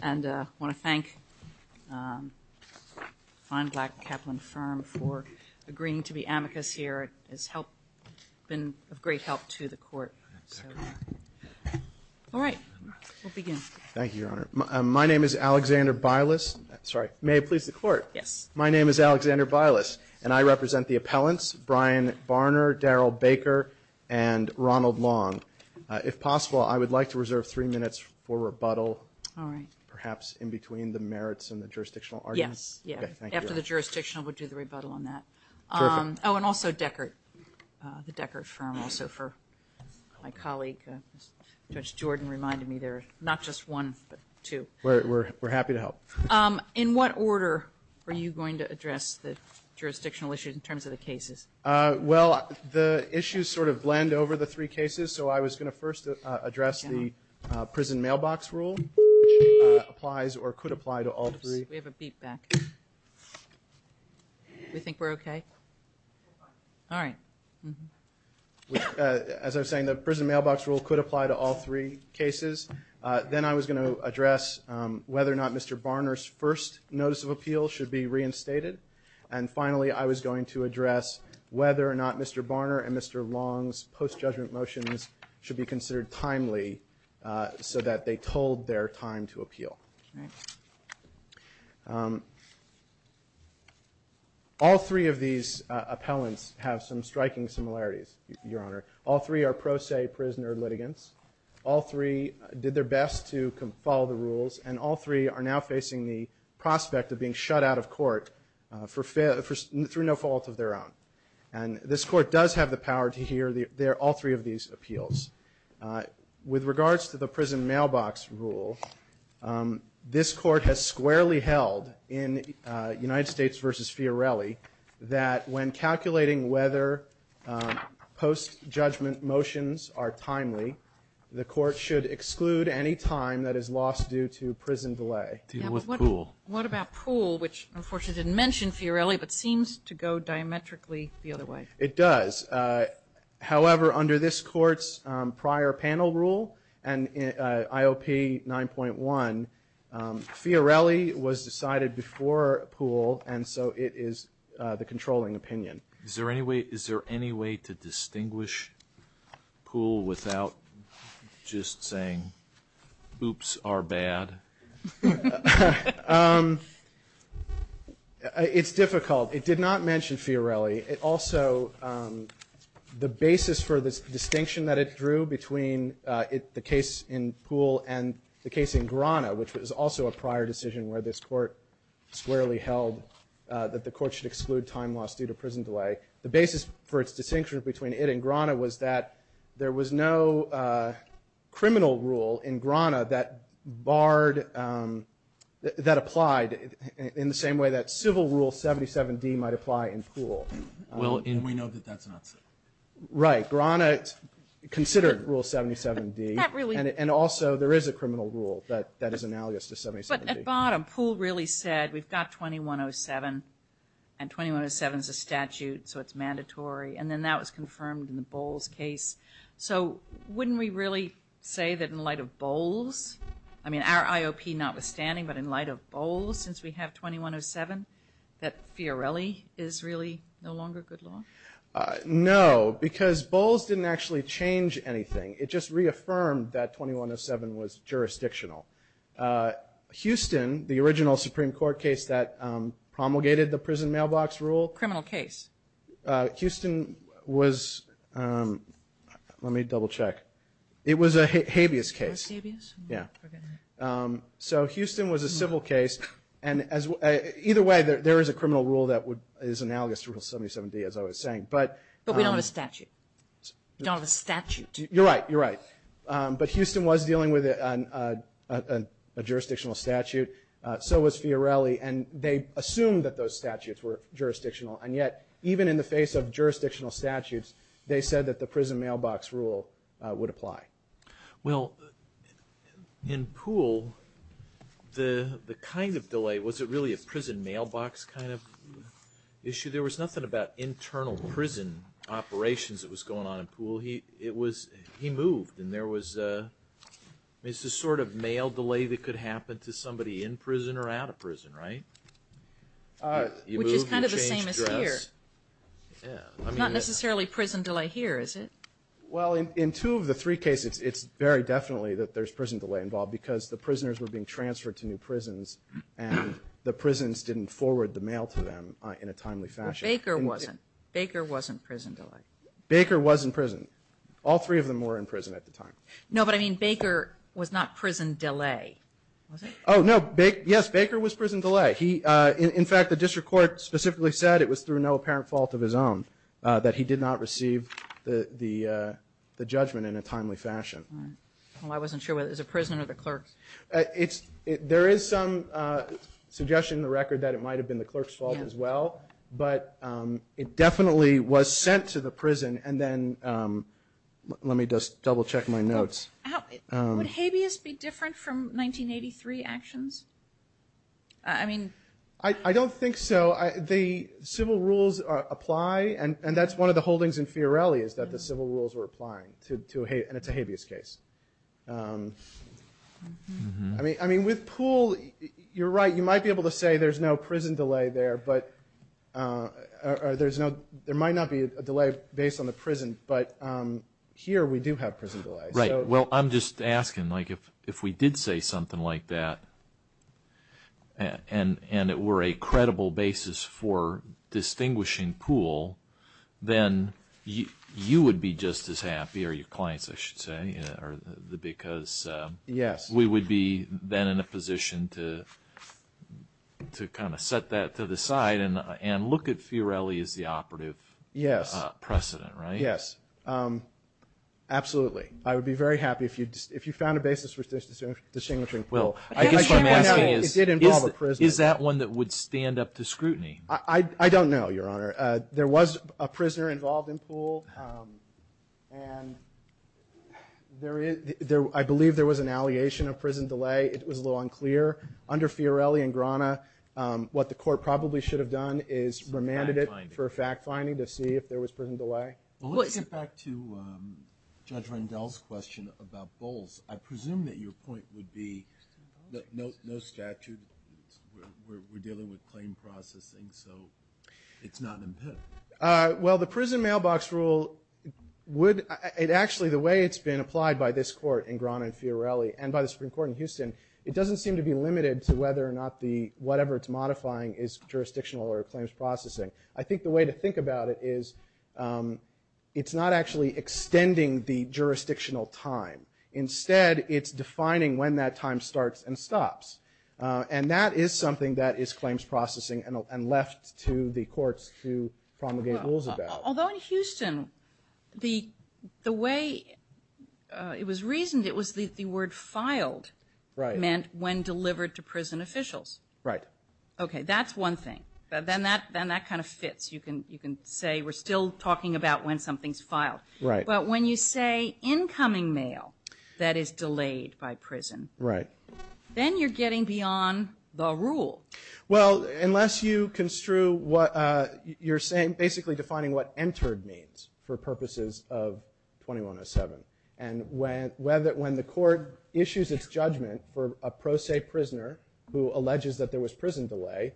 And I want to thank Ron Black, Kaplan Firm, for agreeing to be amicus here. It's been of great help to the court. All right. We'll begin. Thank you, Your Honor. My name is Alexander Bilas. Sorry. May it please the Court? Yes. My name is Alexander Bilas, and I represent the appellants, Brian Barner, Daryl Baker, and Ronald Long. If possible, I would like to reserve three minutes for rebuttal. All right. Perhaps in between the merits and the jurisdictional arguments. Yes. Thank you, Your Honor. After the jurisdictional, we'll do the rebuttal on that. Perfect. Oh, and also Deckert, the Deckert Firm, also for my colleague, Judge Jordan, reminded me there's not just one, but two. We're happy to help. In what order are you going to address the jurisdictional issues in terms of the cases? Well, the issues sort of blend over the three cases, so I was going to first address the prison mailbox rule, which applies or could apply to all three. We have a feedback. Do you think we're okay? All right. As I was saying, the prison mailbox rule could apply to all three cases. Then I was going to address whether or not Mr. Barner's first notice of appeal should be reinstated. And finally, I was going to address whether or not Mr. Barner and Mr. Long's post-judgment motions should be considered timely so that they told their time to appeal. All three of these appellants have some striking similarities, Your Honor. All three are pro se prisoner litigants. And all three are now facing the prospect of being shut out of court for no fault of their own. And this court does have the power to hear all three of these appeals. With regards to the prison mailbox rule, this court has squarely held in United States versus Fiorelli that when calculating whether post-judgment motions are timely, the court should exclude any time that is lost due to prison delay. What about Poole, which unfortunately didn't mention Fiorelli, but seems to go diametrically the other way. It does. However, under this court's prior panel rule and IOP 9.1, Fiorelli was decided before Poole, and so it is the controlling opinion. Is there any way to distinguish Poole without just saying, oops, our bad? It's difficult. It did not mention Fiorelli. It also, the basis for this distinction that it drew between the case in Poole and the case in Grana, which was also a prior decision where this court squarely held that the court should exclude time lost due to prison delay, the basis for its distinction between it and Grana was that there was no criminal rule in Grana that barred, that applied in the same way that civil rule 77-D might apply in Poole. Well, and we know that that's not true. Right. Grana considered rule 77-D, and also there is a criminal rule that is analogous to 77-D. But at bottom, Poole really said we've got 2107, and 2107 is a statute, so it's mandatory, and then that was confirmed in the Bowles case. So wouldn't we really say that in light of Bowles, I mean our IOP notwithstanding, but in light of Bowles, since we have 2107, that Fiorelli is really no longer good law? No, because Bowles didn't actually change anything. It just reaffirmed that 2107 was jurisdictional. Houston, the original Supreme Court case that promulgated the prison mailbox rule. Criminal case. Houston was, let me double check. It was a habeas case. It was habeas? Yeah. Okay. So Houston was a civil case, and either way, there is a criminal rule that is analogous to rule 77-D, as I was saying. But we don't have a statute. We don't have a statute. You're right, you're right. But Houston was dealing with a jurisdictional statute, so was Fiorelli, and they assumed that those statutes were jurisdictional, and yet even in the face of jurisdictional statutes, they said that the prison mailbox rule would apply. Well, in Poole, the kind of delay, was it really a prison mailbox kind of issue? There was nothing about internal prison operations that was going on in Poole. He moved, and there was this sort of mail delay that could happen to somebody in prison or out of prison, right? Which is kind of the same as here. Not necessarily prison delay here, is it? Well, in two of the three cases, it's very definitely that there's prison delay involved because the prisoners were being transferred to new prisons, and the prisons didn't forward the mail to them in a timely fashion. Baker wasn't. Baker wasn't prison delay. Baker was in prison. All three of them were in prison at the time. No, but I mean, Baker was not prison delay, was he? Oh, no. Yes, Baker was prison delay. In fact, the district court specifically said it was through no apparent fault of his own that he did not receive the judgment in a timely fashion. Well, I wasn't sure whether it was the prison or the clerk. There is some suggestion in the record that it might have been the clerk's fault as well, but it definitely was sent to the prison. And then let me just double check my notes. Would habeas be different from 1983 actions? I mean... I don't think so. The civil rules apply, and that's one of the holdings in Fiorelli is that the civil rules were applying, and it's a habeas case. I mean, with Poole, you're right. You might be able to say there's no prison delay there, or there might not be a delay based on the prison, but here we do have prison delay. Right. Well, I'm just asking, like, if we did say something like that and it were a credible basis for distinguishing Poole, then you would be just as happy, or your clients, I should say, because... Yes. We would be then in a position to kind of set that to the side and look at Fiorelli as the operative precedent, right? Yes. Yes. Absolutely. I would be very happy if you found a basis for distinguishing Poole. It did involve a prison. Is that one that would stand up to scrutiny? I don't know, Your Honor. There was a prisoner involved in Poole, and I believe there was an alleation of prison delay. It was a little unclear. Under Fiorelli and Grana, what the court probably should have done is remanded it for fact-finding to see if there was prison delay. Well, let's get back to Judge Randolph's question about Bowles. I presume that your point would be that no statute, we're dealing with claim processing, so it's not an impediment. Well, the prison mailbox rule would... Actually, the way it's been applied by this court in Grana and Fiorelli and by the Supreme Court in Houston, it doesn't seem to be limited to whether or not whatever it's modifying is jurisdictional or claims processing. I think the way to think about it is it's not actually extending the jurisdictional time. Instead, it's defining when that time starts and stops, and that is something that is claims processing and left to the courts to promulgate rules about. Although in Houston, the way it was reasoned, it was the word filed meant when delivered to prison officials. Right. Okay, that's one thing. Then that kind of fits. You can say we're still talking about when something's filed. Right. But when you say incoming mail that is delayed by prison... Right. ...then you're getting beyond the rule. Well, unless you construe what you're saying, basically defining what entered means for purposes of 2107. And when the court issues its judgment for a pro se prisoner who alleges that there was prison delay,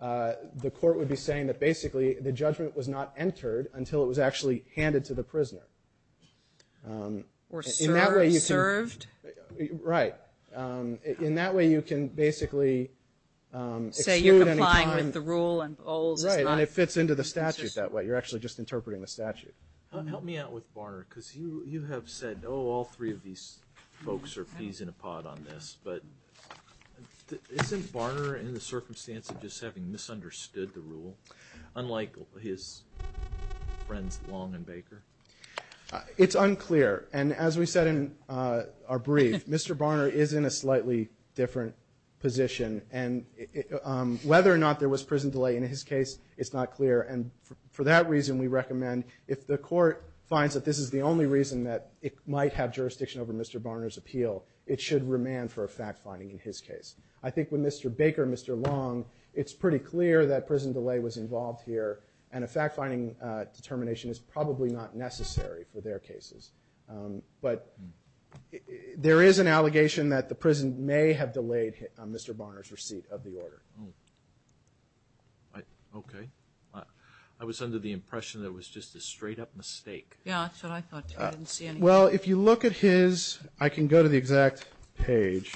the court would be saying that basically the judgment was not entered until it was actually handed to the prisoner. Or served. Right. In that way, you can basically... Say you're applying the rule and all... Right, and it fits into the statute that way. You're actually just interpreting the statute. Help me out with Barner, because you have said, oh, all three of these folks are peas in a pod on this. But isn't Barner in the circumstance of just having misunderstood the rule, unlike his friends Long and Baker? It's unclear. And as we said in our brief, Mr. Barner is in a slightly different position. And whether or not there was prison delay in his case, it's not clear. And for that reason, we recommend if the court finds that this is the only reason that it might have jurisdiction over Mr. Barner's appeal, it should remand for a fact-finding in his case. I think with Mr. Baker and Mr. Long, it's pretty clear that prison delay was involved here, and a fact-finding determination is probably not necessary for their cases. But there is an allegation that the prison may have delayed Mr. Barner's receipt of the order. Okay. I was under the impression that it was just a straight-up mistake. Yeah, that's what I thought too. I didn't see anything. Well, if you look at his – I can go to the exact page.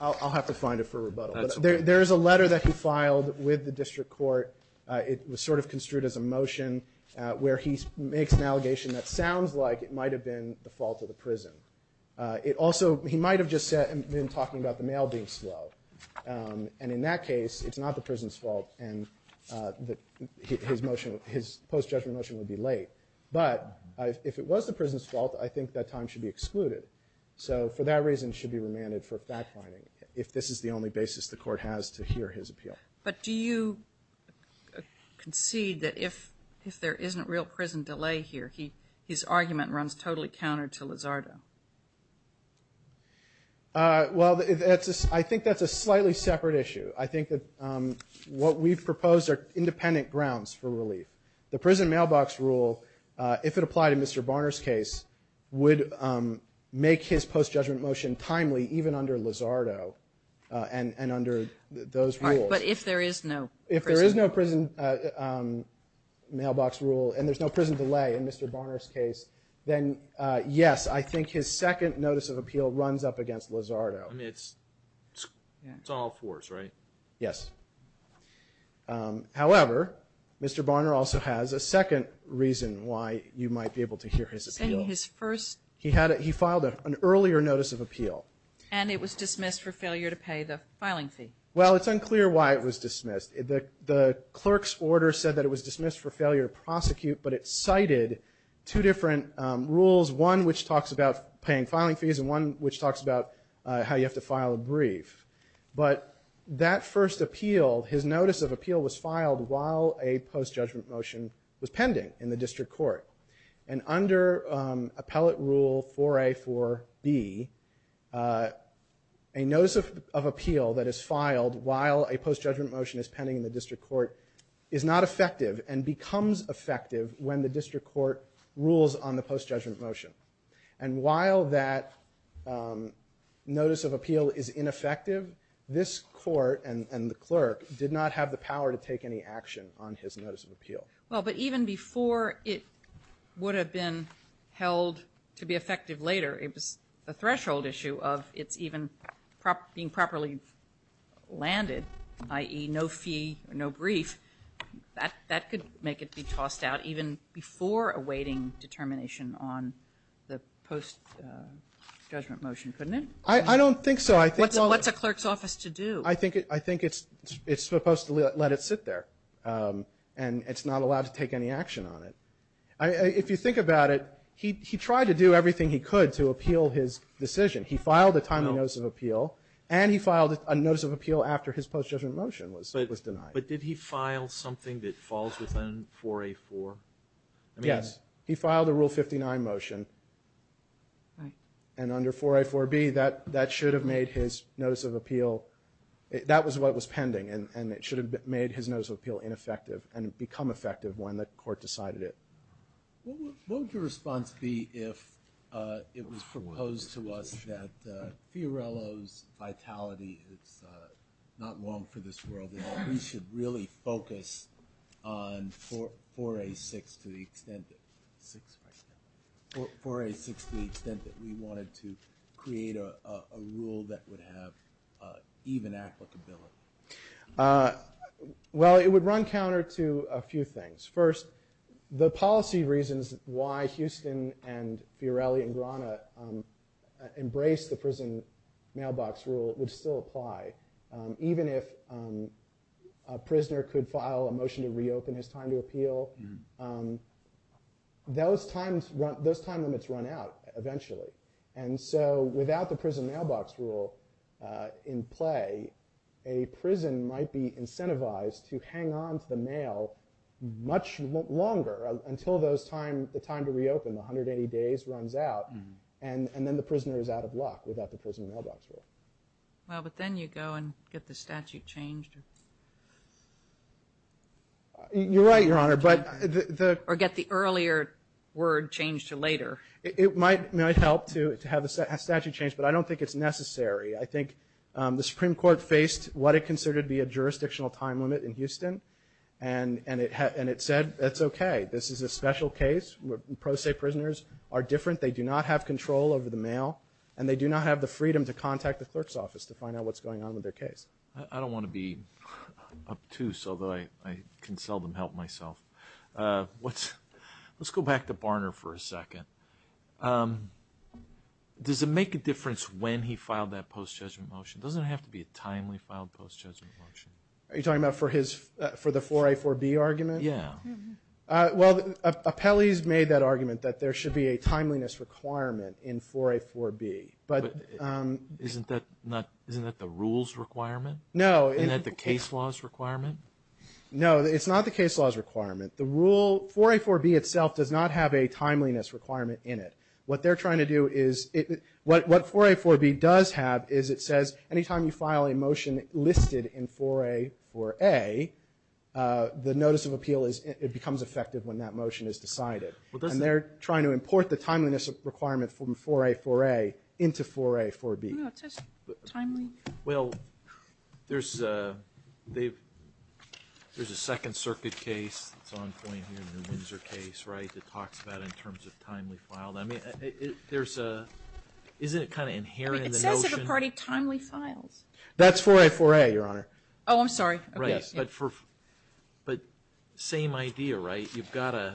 I'll have to find it for rebuttal. There is a letter that he filed with the district court. It was sort of construed as a motion where he makes an allegation that sounds like it might have been the fault of the prison. It also – he might have just been talking about the mail being swelled. And in that case, it's not the prison's fault, and his motion – his post-judgment motion would be late. But if it was the prison's fault, I think that time should be excluded. So for that reason, it should be remanded for fact-finding if this is the only basis the court has to hear his appeal. But do you concede that if there isn't real prison delay here, his argument runs totally counter to Lizardo? Well, I think that's a slightly separate issue. I think that what we've proposed are independent grounds for relief. The prison mailbox rule, if it applied in Mr. Barner's case, would make his post-judgment motion timely even under Lizardo and under those rules. But if there is no prison – I think his second notice of appeal runs up against Lizardo. It's all fours, right? Yes. However, Mr. Barner also has a second reason why you might be able to hear his appeal. His first – He filed an earlier notice of appeal. And it was dismissed for failure to pay the filing fee. Well, it's unclear why it was dismissed. The clerk's order said that it was dismissed for failure to prosecute, but it cited two different rules. One which talks about paying filing fees and one which talks about how you have to file a brief. But that first appeal, his notice of appeal, was filed while a post-judgment motion was pending in the district court. And under Appellate Rule 4A, 4B, a notice of appeal that is filed while a post-judgment motion is pending in the district court is not effective and becomes effective when the district court rules on the post-judgment motion. And while that notice of appeal is ineffective, this court and the clerk did not have the power to take any action on his notice of appeal. Well, but even before it would have been held to be effective later, the threshold issue of it even being properly landed, i.e., no fee, no brief, that could make it be tossed out even before awaiting determination on the post-judgment motion, couldn't it? I don't think so. What's a clerk's office to do? I think it's supposed to let it sit there. And it's not allowed to take any action on it. If you think about it, he tried to do everything he could to appeal his decision. He filed a timely notice of appeal, and he filed a notice of appeal after his post-judgment motion was denied. But did he file something that falls within 4A.4? Yes. He filed a Rule 59 motion. And under 4A.4B, that should have made his notice of appeal, that was what was pending, and it should have made his notice of appeal ineffective and become effective when the court decided it. What would your response be if it was proposed to us that Fiorello's vitality is not long for this world and that we should really focus on 4A.6 to the extent that we wanted to create a rule that would have even applicability? Well, it would run counter to a few things. First, the policy reasons why Houston and Fiorello and Grana embraced the prison mailbox rule would still apply. Even if a prisoner could file a motion to reopen his time to appeal, those time limits run out eventually. And so without the prison mailbox rule in play, a prison might be incentivized to hang on to the mail much longer until the time to reopen, 180 days, runs out, and then the prisoner is out of luck without the prison mailbox rule. Well, but then you go and get the statute changed. You're right, Your Honor. Or get the earlier word changed to later. It might help to have a statute changed, but I don't think it's necessary. I think the Supreme Court faced what it considered to be a jurisdictional time limit in Houston, and it said it's okay. This is a special case where pro se prisoners are different. They do not have control over the mail, and they do not have the freedom to contact the clerk's office to find out what's going on with their case. I don't want to be up to, so I can seldom help myself. Let's go back to Barnard for a second. Does it make a difference when he filed that post-judgment motion? It doesn't have to be a timely filed post-judgment motion. Are you talking about for the 4A, 4B argument? Yeah. Well, Appellee's made that argument that there should be a timeliness requirement in 4A, 4B. But isn't that the rules requirement? No. Isn't that the case law's requirement? No, it's not the case law's requirement. The rule, 4A, 4B itself does not have a timeliness requirement in it. What they're trying to do is, what 4A, 4B does have is it says any time you file a motion listed in 4A, 4A, the notice of appeal becomes effective when that motion is decided. And they're trying to import the timeliness requirement from 4A, 4A into 4A, 4B. Well, there's a Second Circuit case that's ongoing here in the Windsor case, right, that talks about it in terms of timely file. I mean, isn't it kind of inherent in the notion? It does have a part of timely file. That's 4A, 4A, Your Honor. Oh, I'm sorry. Right. But same idea, right? Wouldn't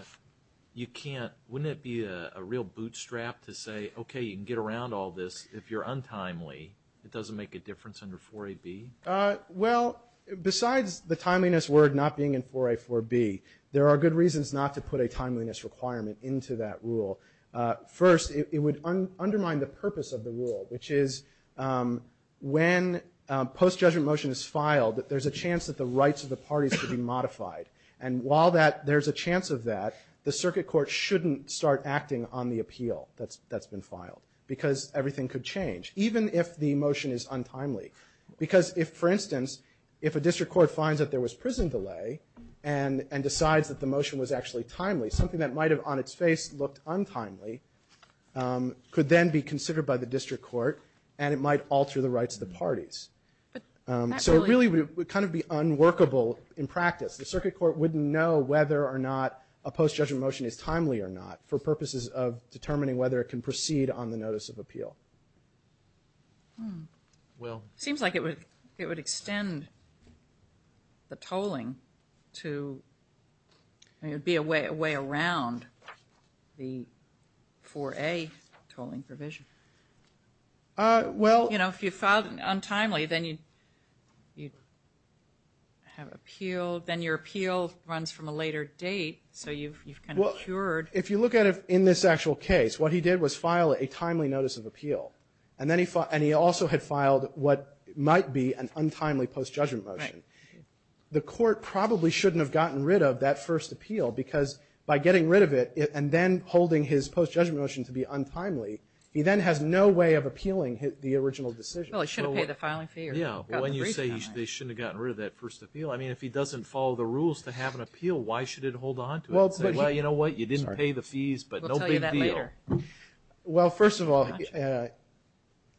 it be a real bootstrap to say, okay, you can get around all this. If you're untimely, it doesn't make a difference under 4A, B? Well, besides the timeliness word not being in 4A, 4B, there are good reasons not to put a timeliness requirement into that rule. First, it would undermine the purpose of the rule, which is when a post-judgment motion is filed that there's a chance that the rights of the parties could be modified. And while there's a chance of that, the circuit court shouldn't start acting on the appeal that's been filed because everything could change, even if the motion is untimely. Because, for instance, if a district court finds that there was prison delay and decides that the motion was actually timely, something that might have on its face looked untimely could then be considered by the district court, and it might alter the rights of the parties. So it really would kind of be unworkable in practice. The circuit court wouldn't know whether or not a post-judgment motion is timely or not for purposes of determining whether it can proceed on the notice of appeal. Well, it seems like it would extend the tolling to be a way around the 4A tolling provision. Well... You know, if you filed untimely, then you have appeal, then your appeal runs from a later date, so you've kind of cured... If you look at it in this actual case, what he did was file a timely notice of appeal, and he also had filed what might be an untimely post-judgment motion. The court probably shouldn't have gotten rid of that first appeal, because by getting rid of it and then holding his post-judgment motion to be untimely, he then has no way of appealing the original decision. Well, he should have paid the filing fee. Yeah. Well, when you say they shouldn't have gotten rid of that first appeal, I mean, if he doesn't follow the rules to have an appeal, why should it hold onto it? Well, you know what? You didn't pay the fees, but no big deal. Well, first of all,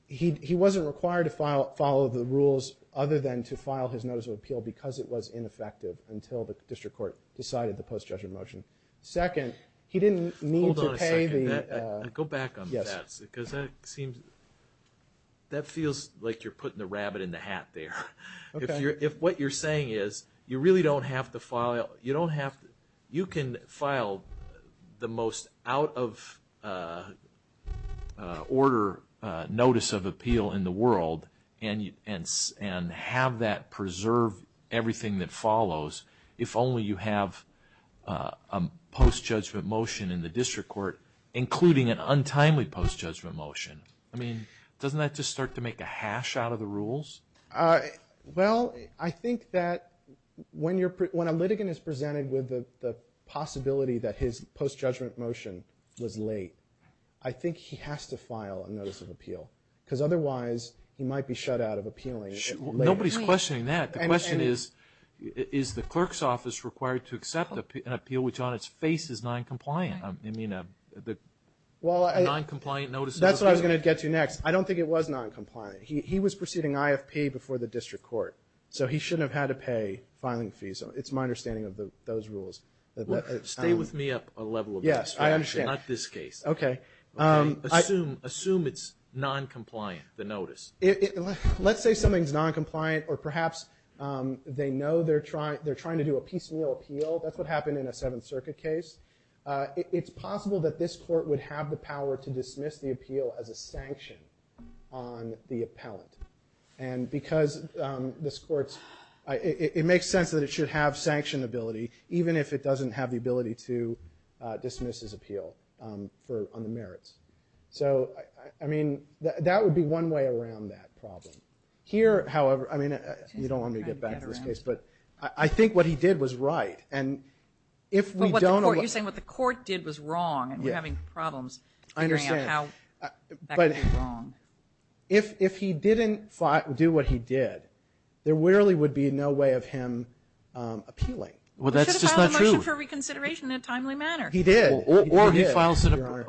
he wasn't required to follow the rules other than to file his notice of appeal because it was ineffective until the district court decided the post-judgment motion. Second, he didn't need to pay the... Go back on that, because that seems like you're putting the rabbit in the hat there. Okay. If what you're saying is you really don't have to file, you can file the most out-of-order notice of appeal in the world and have that preserve everything that follows if only you have a post-judgment motion in the district court including an untimely post-judgment motion. I mean, doesn't that just start to make the hash out of the rules? Well, I think that when a litigant is presented with the possibility that his post-judgment motion was late, I think he has to file a notice of appeal because otherwise he might be shut out of appealing late. Nobody's questioning that. The question is, is the clerk's office required to accept an appeal which on its face is noncompliant? You mean a noncompliant notice of appeal? That's what I was going to get to next. I don't think it was noncompliant. He was proceeding IFP before the district court, so he shouldn't have had to pay filing fees. It's my understanding of those rules. Stay with me up a level of this. Yes, I understand. Not this case. Okay. Assume it's noncompliant, the notice. Let's say something's noncompliant or perhaps they know they're trying to do a PCL appeal. That's what happened in a Seventh Circuit case. It's possible that this court would have the power to dismiss the appeal as a sanction on the appellant. And because this court's – it makes sense that it should have sanction ability, even if it doesn't have the ability to dismiss his appeal on the merits. So, I mean, that would be one way around that problem. Here, however, I mean, you don't want me to get back to this case, but I think what he did was right. And if we don't – You're saying what the court did was wrong and we're having problems figuring out how that could be wrong. If he didn't do what he did, there really would be no way of him appealing. Well, that's just not true. He should have filed a motion for reconsideration in a timely manner. He did. I'm sorry.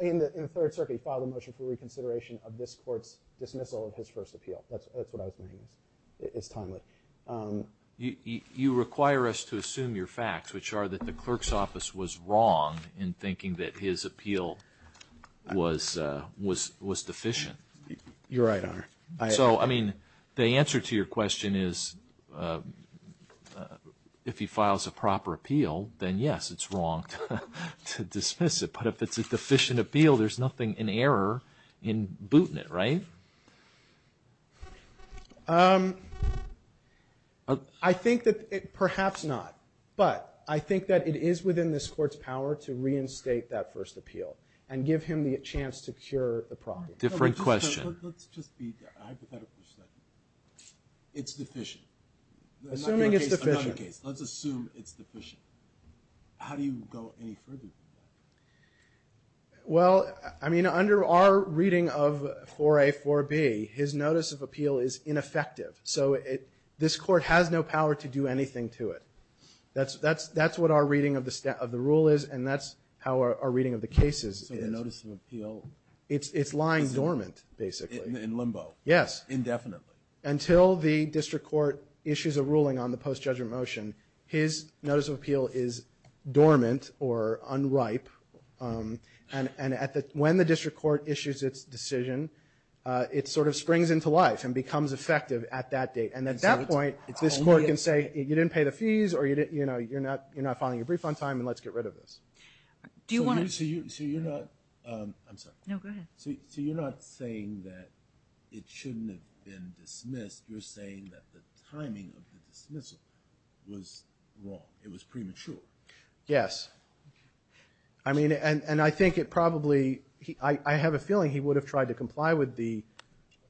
In the Third Circuit, he filed a motion for reconsideration of this court's dismissal of his first appeal. That's what I was thinking. It's timely. You require us to assume your facts, which are that the clerk's office was wrong in thinking that his appeal was deficient. You're right, Your Honor. So, I mean, the answer to your question is if he files a proper appeal, then, yes, it's wrong to dismiss it. But if it's a deficient appeal, there's nothing in error in booting it, right? I think that – perhaps not. But I think that it is within this court's power to reinstate that first appeal and give him the chance to cure the problem. Different question. Let's just be hypothetical for a second. It's deficient. Assuming it's deficient. Let's assume it's deficient. How do you go any further than that? Well, I mean, under our reading of 4A, 4B, his notice of appeal is ineffective. So this court has no power to do anything to it. That's what our reading of the rule is, and that's how our reading of the case is. It's lying dormant, basically. In limbo. Yes. Indefinitely. Until the district court issues a ruling on the post-judgment motion, his notice of appeal is dormant or unripe. And when the district court issues its decision, it sort of springs into life and becomes effective at that date. And at that point, this court can say, you didn't pay the fees or, you know, you're not filing a brief on time, and let's get rid of this. So you're not saying that it shouldn't have been dismissed. You're saying that the timing of the dismissal was wrong. It was premature. Yes. I mean, and I think it probably – I have a feeling he would have tried to comply with the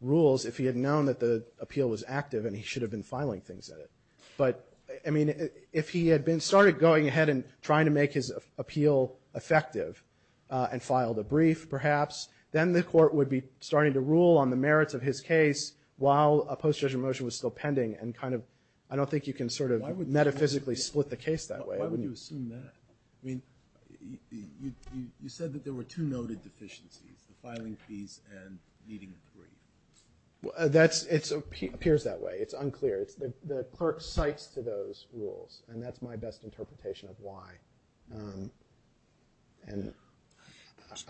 rules if he had known that the appeal was active, and he should have been filing things at it. But, I mean, if he had been – started going ahead and trying to make his appeal effective and filed a brief, perhaps, then the court would be starting to rule on the merits of his case while a post-judgment motion was still pending and kind of – I don't think you can sort of metaphysically split the case that way. Why would you assume that? I mean, you said that there were two noted deficiencies, the filing fees and meeting the brief. It appears that way. It's unclear. The clerk cites to those rules, and that's my best interpretation of why. Do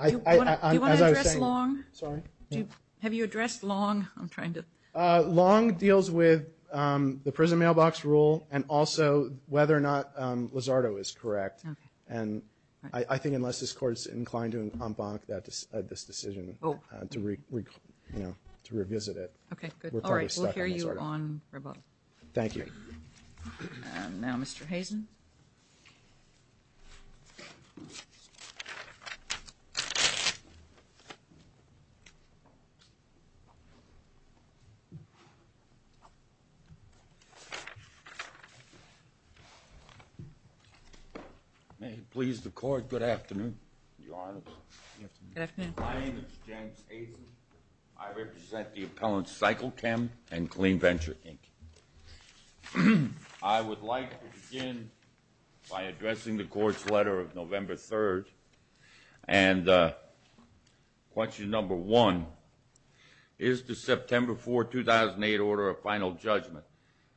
you want to address Long? Sorry? Have you addressed Long? I'm trying to – Long deals with the prison mailbox rule and also whether or not Lizardo is correct. And I think unless this court is inclined to embank this decision to revisit it. Okay, good. All right, we'll hear you on rebuttal. Thank you. And now Mr. Hazen. May it please the court, good afternoon, Your Honor. Good afternoon. My name is James Hazen. I represent the appellants Cyclechem and Clean Venture Inc. I would like to begin by addressing the court's letter of November 3rd. And question number one is to September 4, 2008, order a final judgment.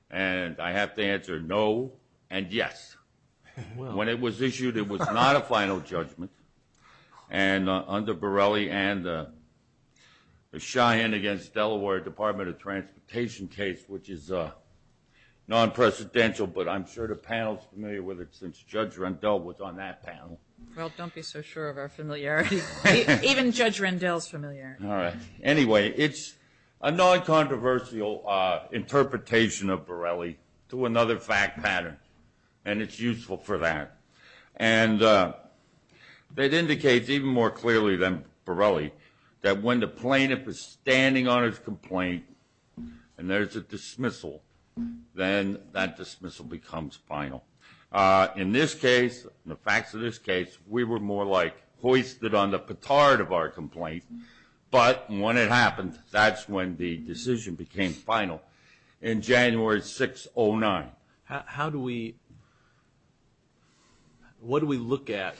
And I have to answer no and yes. When it was issued, it was not a final judgment. And under Borelli and the Cheyenne against Delaware Department of Transportation case, which is non-precedential, but I'm sure the panel is familiar with it since Judge Rendell was on that panel. Well, don't be so sure of our familiarity. Even Judge Rendell is familiar. All right. Anyway, it's a non-controversial interpretation of Borelli to another fact pattern, and it's useful for that. And that indicates even more clearly than Borelli that when the plaintiff is standing on his complaint and there's a dismissal, then that dismissal becomes final. In this case, in the facts of this case, we were more like hoisted on the petard of our complaint. But when it happened, that's when the decision became final in January 6, 2009. How do we – what do we look at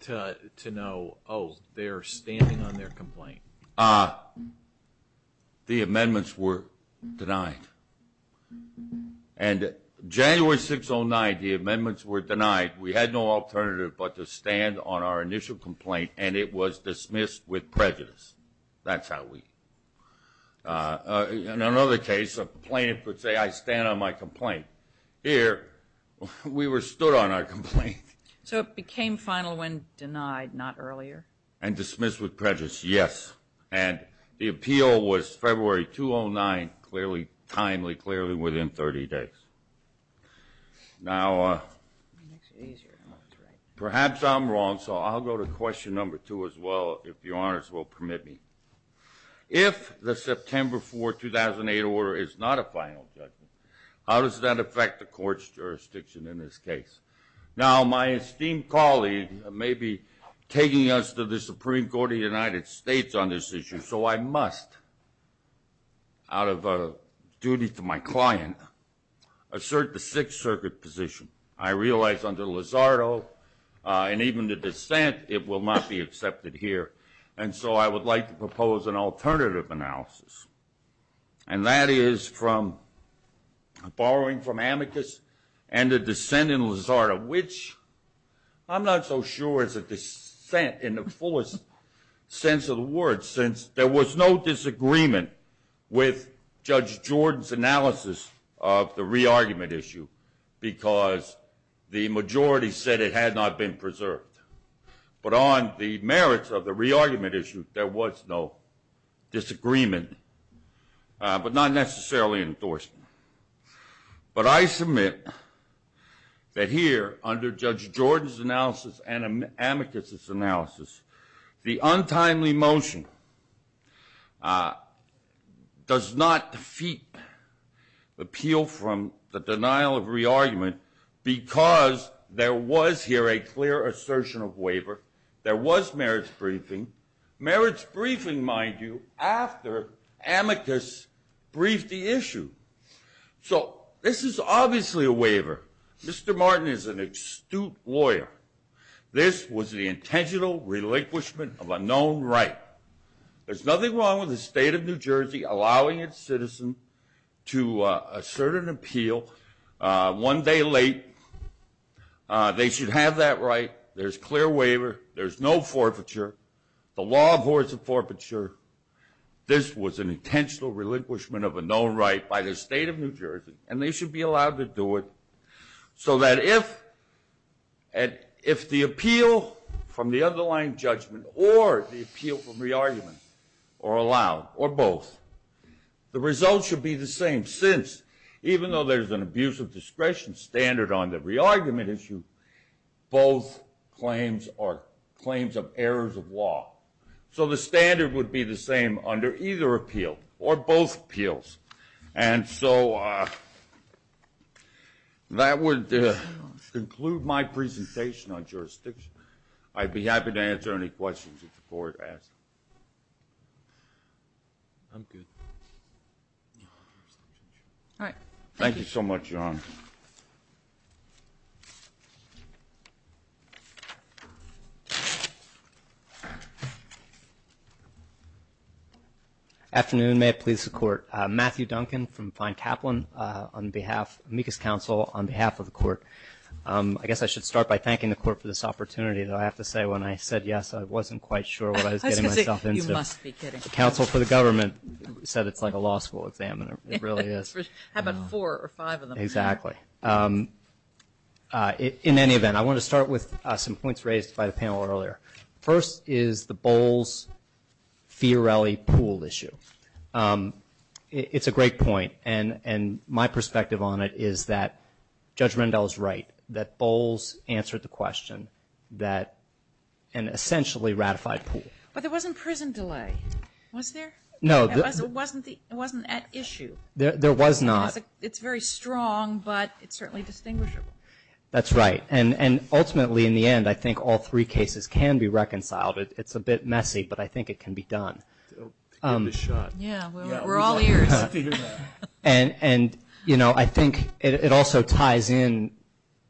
to know, oh, they're standing on their complaint? The amendments were denied. And January 6, 2009, the amendments were denied. We had no alternative but to stand on our initial complaint, and it was dismissed with prejudice. That's how we – in another case, a plaintiff would say, I stand on my complaint. Here, we were stood on our complaint. So it became final when denied, not earlier? And dismissed with prejudice, yes. And the appeal was February 2009, clearly, timely, clearly within 30 days. Now, perhaps I'm wrong, so I'll go to question number two as well, if the honors will permit me. If the September 4, 2008 order is not a final judgment, how does that affect the court's jurisdiction in this case? Now, my esteemed colleague may be taking us to the Supreme Court of the United States on this issue, so I must, out of duty to my client, assert the Sixth Circuit position. I realize under Lizardo and even the dissent, it will not be accepted here. And so I would like to propose an alternative analysis. And that is from – borrowing from amicus and the dissent in Lizardo, which I'm not so sure is a dissent in the fullest sense of the word, since there was no disagreement with Judge Jordan's analysis of the re-argument issue because the majority said it had not been preserved. But on the merits of the re-argument issue, there was no disagreement, but not necessarily endorsement. But I submit that here, under Judge Jordan's analysis and amicus' analysis, the untimely motion does not defeat appeal from the denial of re-argument because there was here a clear assertion of waiver. There was marriage briefing. Marriage briefing, mind you, after amicus briefed the issue. So this is obviously a waiver. Mr. Martin is an astute lawyer. This was the intentional relinquishment of a known right. There's nothing wrong with the state of New Jersey allowing its citizens to assert an appeal one day late. They should have that right. There's clear waiver. There's no forfeiture. The law abhors a forfeiture. This was an intentional relinquishment of a known right by the state of New Jersey, and they should be allowed to do it so that if the appeal from the underlying judgment or the appeal from re-argument are allowed, or both, the result should be the same, since even though there's an abuse of discretion standard on the re-argument issue, both claims are claims of errors of law. So the standard would be the same under either appeal or both appeals. And so that would conclude my presentation on jurisdiction. I'd be happy to answer any questions that the board has. I'm good. All right. Thank you so much, John. Afternoon. May it please the Court. Matthew Duncan from Fine Taplin on behalf of the Amicus Council on behalf of the Court. I guess I should start by thanking the Court for this opportunity, though I have to say when I said yes, I wasn't quite sure what I was getting myself into. You must be kidding. The Council for the Government said it's like a law school examiner. It really is. How about four or five of them? Exactly. In any event, I want to start with some points raised by the panel earlier. First is the Bowles-Fiorelli pool issue. It's a great point, and my perspective on it is that Judge Rendell is right, that Bowles answered the question, that an essentially ratified pool. But there wasn't prison delay, was there? No. It wasn't at issue. There was not. It's very strong, but it's certainly distinguishable. That's right. And ultimately, in the end, I think all three cases can be reconciled. It's a bit messy, but I think it can be done. Yeah, we're all ears. And, you know, I think it also ties in.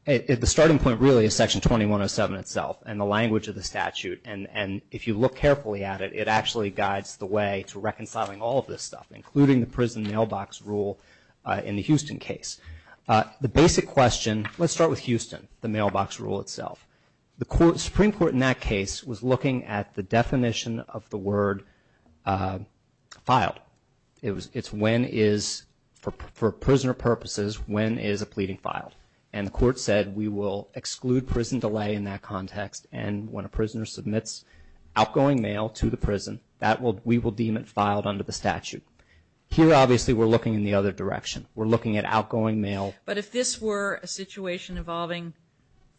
The starting point really is Section 2107 itself and the language of the statute, and if you look carefully at it, it actually guides the way to reconciling all of this stuff, including the prison mailbox rule in the Houston case. The basic question, let's start with Houston, the mailbox rule itself. The Supreme Court in that case was looking at the definition of the word filed. It's when is, for prisoner purposes, when is a pleading filed. And the court said we will exclude prison delay in that context, and when a prisoner submits outgoing mail to the prison, we will deem it filed under the statute. Here, obviously, we're looking in the other direction. We're looking at outgoing mail. But if this were a situation involving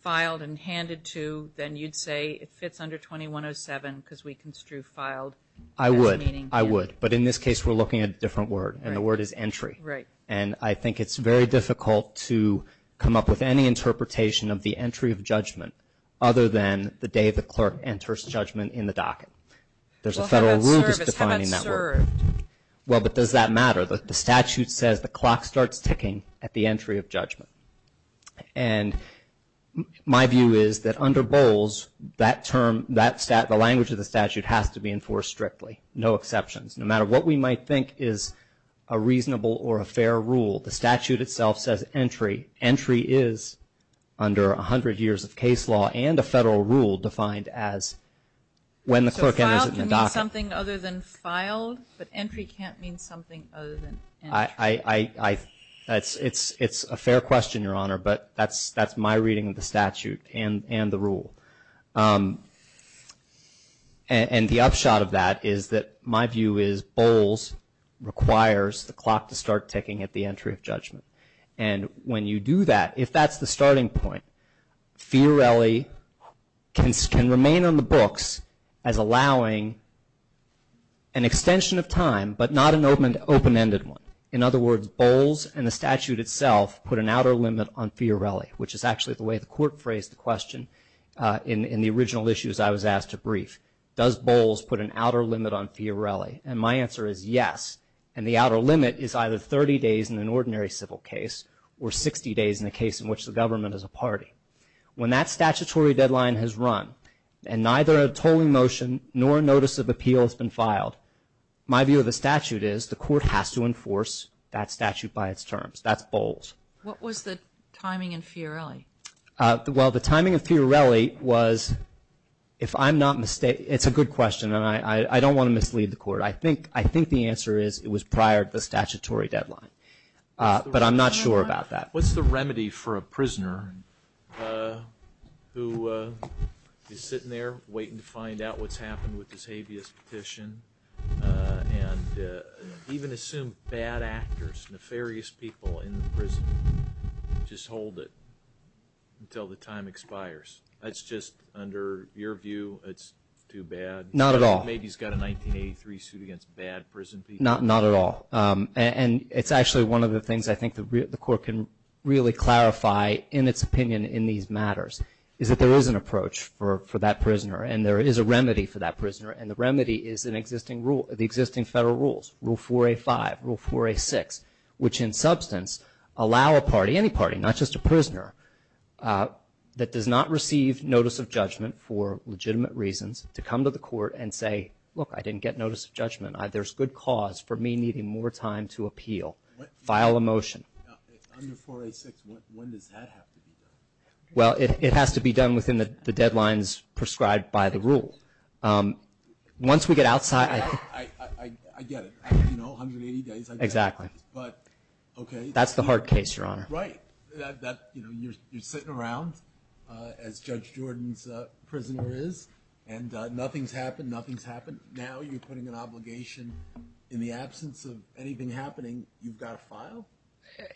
filed and handed to, then you'd say it fits under 2107 because we construe filed. I would. I would. But in this case, we're looking at a different word, and the word is entry. Right. And I think it's very difficult to come up with any interpretation of the entry of judgment other than the day the clerk enters judgment in the docket. There's a federal rule that's defining that word. Well, how about served? Well, but does that matter? The statute says the clock starts ticking at the entry of judgment. And my view is that under Bowles, that term, that language of the statute has to be enforced strictly. No exceptions. No matter what we might think is a reasonable or a fair rule, the statute itself says entry. Entry is under 100 years of case law and a federal rule defined as when the clerk enters the docket. Does that mean something other than filed? But entry can't mean something other than filed. It's a fair question, Your Honor, but that's my reading of the statute and the rule. And the upshot of that is that my view is Bowles requires the clock to start ticking at the entry of judgment. And when you do that, if that's the starting point, Fiorelli can remain on the books as allowing an extension of time, but not an open-ended one. In other words, Bowles and the statute itself put an outer limit on Fiorelli, which is actually the way the court phrased the question in the original issues I was asked to brief. Does Bowles put an outer limit on Fiorelli? And my answer is yes. And the outer limit is either 30 days in an ordinary civil case or 60 days in a case in which the government is a party. When that statutory deadline has run and neither a tolling motion nor a notice of appeal has been filed, my view of the statute is the court has to enforce that statute by its terms. That's Bowles. What was the timing in Fiorelli? Well, the timing in Fiorelli was, if I'm not mistaken, it's a good question, and I don't want to mislead the court. I think the answer is it was prior to the statutory deadline, but I'm not sure about that. What's the remedy for a prisoner who is sitting there waiting to find out what's happened with his habeas petition and even assume bad actors, nefarious people in the prison just hold it until the time expires? That's just – under your view, it's too bad? Not at all. Maybe he's got a 1983 suit against bad prison people. Not at all. And it's actually one of the things I think the court can really clarify in its opinion in these matters, is that there is an approach for that prisoner and there is a remedy for that prisoner, and the remedy is the existing federal rules, Rule 4A5, Rule 4A6, which in substance allow a party, any party, not just a prisoner, that does not receive notice of judgment for legitimate reasons to come to the court and say, look, I didn't get notice of judgment. There's good cause for me needing more time to appeal. File a motion. Under 4A6, when does that have to be done? Well, it has to be done within the deadlines prescribed by the rules. Once we get outside – I get it. 180 days. Exactly. But, okay. That's the hard case, Your Honor. Right. You know, you're sitting around as Judge Jordan's prisoner is, and nothing's happened, nothing's happened. Now you're putting an obligation in the absence of anything happening. You've got to file?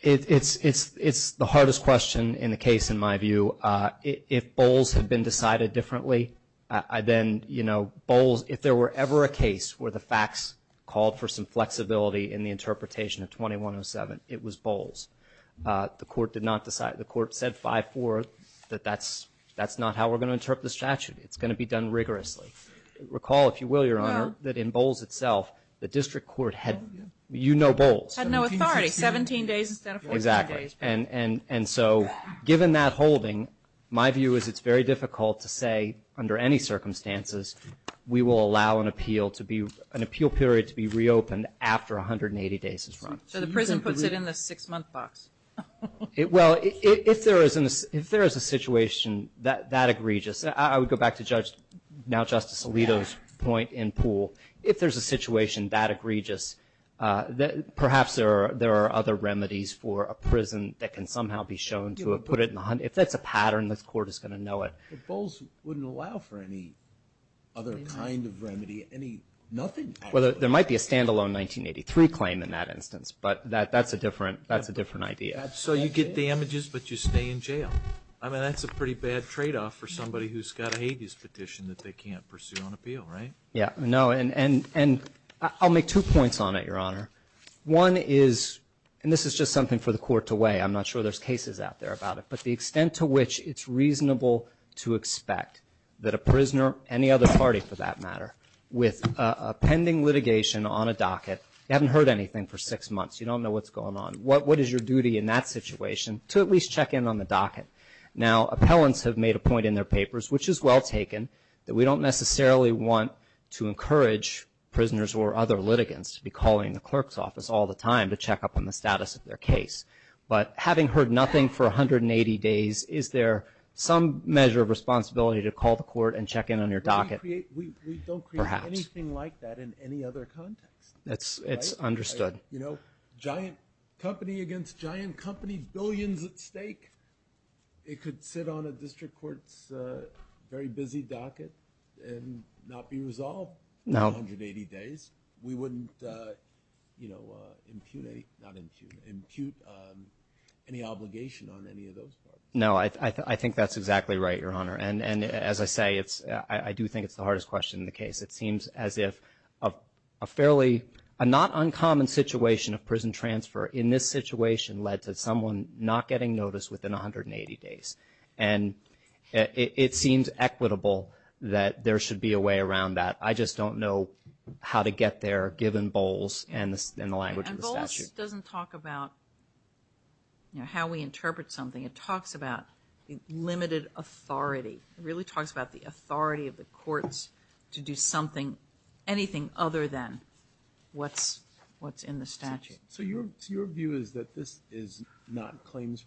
It's the hardest question in a case, in my view. If Bowles had been decided differently, I then, you know, Bowles, if there were ever a case where the facts called for some flexibility in the interpretation of 2107, it was Bowles. The court did not decide. The court said 5-4 that that's not how we're going to interpret the statute. It's going to be done rigorously. Recall, if you will, Your Honor, that in Bowles itself, the district court had – you know Bowles. Had no authority. 17 days instead of 14 days. Exactly. And so, given that holding, my view is it's very difficult to say under any circumstances we will allow an appeal period to be reopened after 180 days has run. So the prison puts it in the six-month box. Well, if there is a situation that egregious, I would go back to Judge – now Justice Alito's point in Poole. If there's a situation that egregious, perhaps there are other remedies for a prison that can somehow be shown to have put it in – if that's the pattern, the court is going to know it. Bowles wouldn't allow for any other kind of remedy, any – nothing? Well, there might be a standalone 1983 claim in that instance, but that's a different idea. So you get the images, but you stay in jail. I mean, that's a pretty bad tradeoff for somebody who's got an abuse petition that they can't pursue on appeal, right? Yeah. No, and I'll make two points on it, Your Honor. One is – and this is just something for the court to weigh. I'm not sure there's cases out there about it. But the extent to which it's reasonable to expect that a prisoner, any other party for that matter, with a pending litigation on a docket, you haven't heard anything for six months, you don't know what's going on. What is your duty in that situation? To at least check in on the docket. Now, appellants have made a point in their papers, which is well taken, that we don't necessarily want to encourage prisoners or other litigants to be calling the clerk's office all the time to check up on the status of their case. But having heard nothing for 180 days, is there some measure of responsibility to call the court and check in on your docket? We don't create anything like that in any other context. It's understood. You know, giant company against giant company, billions at stake. It could sit on a district court's very busy docket and not be resolved in 180 days. We wouldn't impute any obligation on any of those. No, I think that's exactly right, Your Honor. And as I say, I do think it's the hardest question in the case. It seems as if a fairly not uncommon situation of prison transfer in this situation led to someone not getting notice within 180 days. And it seems equitable that there should be a way around that. I just don't know how to get there given Bowles and the language of the statute. And Bowles doesn't talk about, you know, how we interpret something. It talks about limited authority. It really talks about the authority of the courts to do something, anything other than what's in the statute. So your view is that this is not claims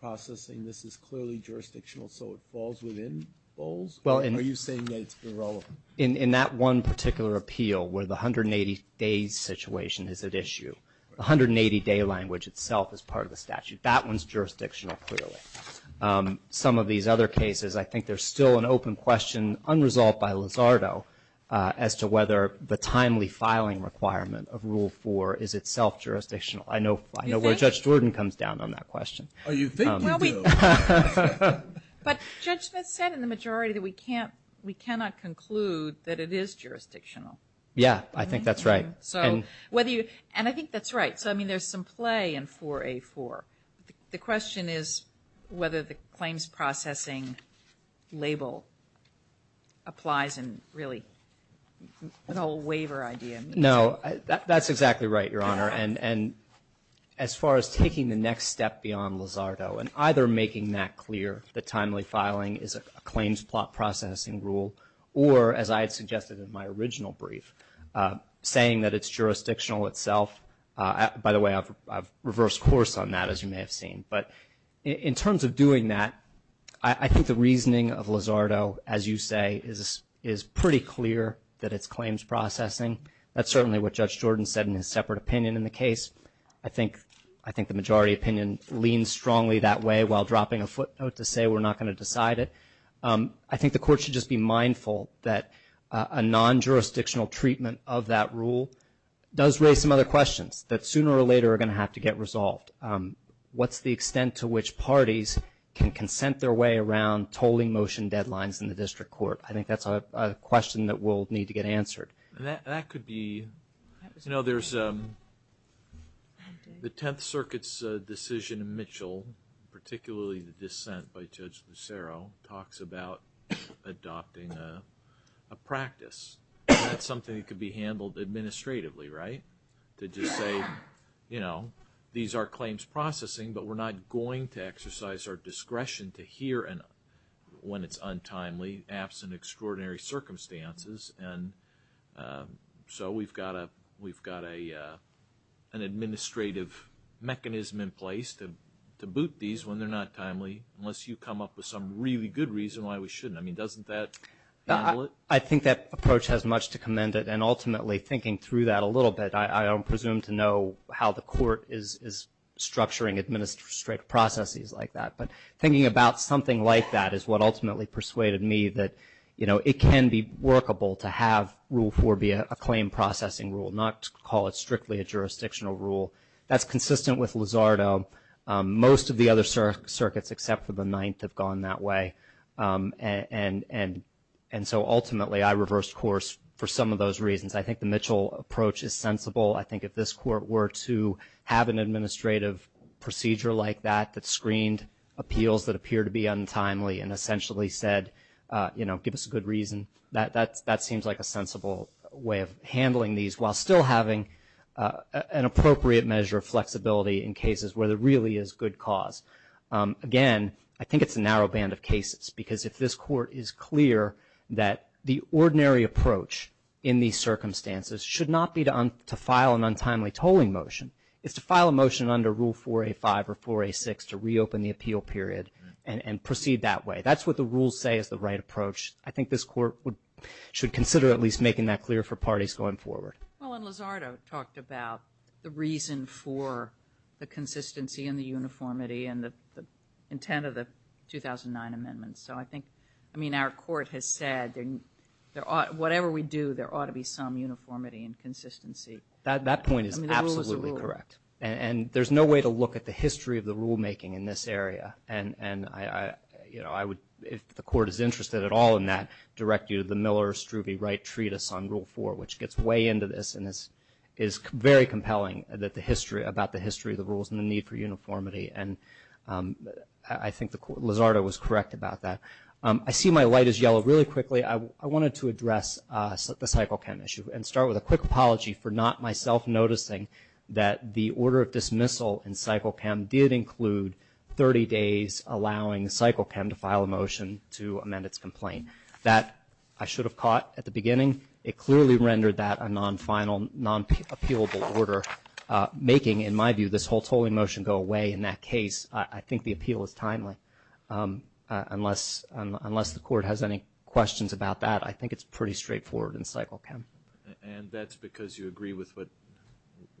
processing? This is clearly jurisdictional, so it falls within Bowles? Are you saying that it's irrelevant? In that one particular appeal where the 180-day situation is at issue, the 180-day language itself is part of the statute. That one's jurisdictional clearly. Some of these other cases, I think there's still an open question unresolved by Lizardo as to whether the timely filing requirement of Rule 4 is itself jurisdictional. I know where Judge Jordan comes down on that question. But Judge, that said, in the majority, we cannot conclude that it is jurisdictional. Yeah, I think that's right. So whether you – and I think that's right. So, I mean, there's some play in 4A4. The question is whether the claims processing label applies and really an old waiver idea. No, that's exactly right, Your Honor. And as far as taking the next step beyond Lizardo and either making that clear that timely filing is a claims processing rule or, as I had suggested in my original brief, saying that it's jurisdictional itself. By the way, I've reversed course on that, as you may have seen. But in terms of doing that, I think the reasoning of Lizardo, as you say, is pretty clear that it's claims processing. That's certainly what Judge Jordan said in his separate opinion in the case. I think the majority opinion leans strongly that way while dropping a footnote to say we're not going to decide it. I think the court should just be mindful that a non-jurisdictional treatment of that rule does raise some other questions that sooner or later are going to have to get resolved. What's the extent to which parties can consent their way around tolling motion deadlines in the district court? I think that's a question that will need to get answered. That could be – you know, there's the Tenth Circuit's decision in Mitchell, particularly the dissent by Judge Becero, talks about adopting a practice. That's something that could be handled administratively, right, to just say, you know, these are claims processing, but we're not going to exercise our discretion to hear when it's untimely, absent extraordinary circumstances. And so we've got an administrative mechanism in place to boot these when they're not timely, unless you come up with some really good reason why we shouldn't. I mean, doesn't that handle it? I think that approach has much to commend it. And ultimately, thinking through that a little bit, I don't presume to know how the court is structuring administrative processes like that. But thinking about something like that is what ultimately persuaded me that, you know, it can be workable to have Rule 4 be a claim processing rule, not call it strictly a jurisdictional rule. That's consistent with Lizardo. Most of the other circuits except for the Ninth have gone that way. And so ultimately, I reversed course for some of those reasons. I think the Mitchell approach is sensible. I think if this court were to have an administrative procedure like that that screened appeals that appear to be untimely and essentially said, you know, give us a good reason, that seems like a sensible way of handling these, while still having an appropriate measure of flexibility in cases where there really is good cause. Again, I think it's a narrow band of cases, because if this court is clear that the ordinary approach in these circumstances should not be to file an untimely tolling motion. It's to file a motion under Rule 4A5 or 4A6 to reopen the appeal period and proceed that way. That's what the rules say is the right approach. I think this court should consider at least making that clear for parties going forward. Well, and Lizardo talked about the reason for the consistency and the uniformity and the intent of the 2009 amendments. So I think, I mean, our court has said that whatever we do, there ought to be some uniformity and consistency. That point is absolutely correct. And there's no way to look at the history of the rulemaking in this area. And, you know, if the court is interested at all in that, I would direct you to the Miller-Struve-Wright Treatise on Rule 4, which gets way into this. And this is very compelling about the history of the rules and the need for uniformity. And I think Lizardo was correct about that. I see my light is yellow. Really quickly, I wanted to address the cycle PEM issue and start with a quick apology for not myself noticing that the order of dismissal in cycle PEM did include 30 days allowing cycle PEM to file a motion to amend its complaint. That I should have caught at the beginning. It clearly rendered that a non-final, non-appealable order, making, in my view, this whole motion go away in that case. I think the appeal is timely. Unless the court has any questions about that, I think it's pretty straightforward in cycle PEM. And that's because you agree with what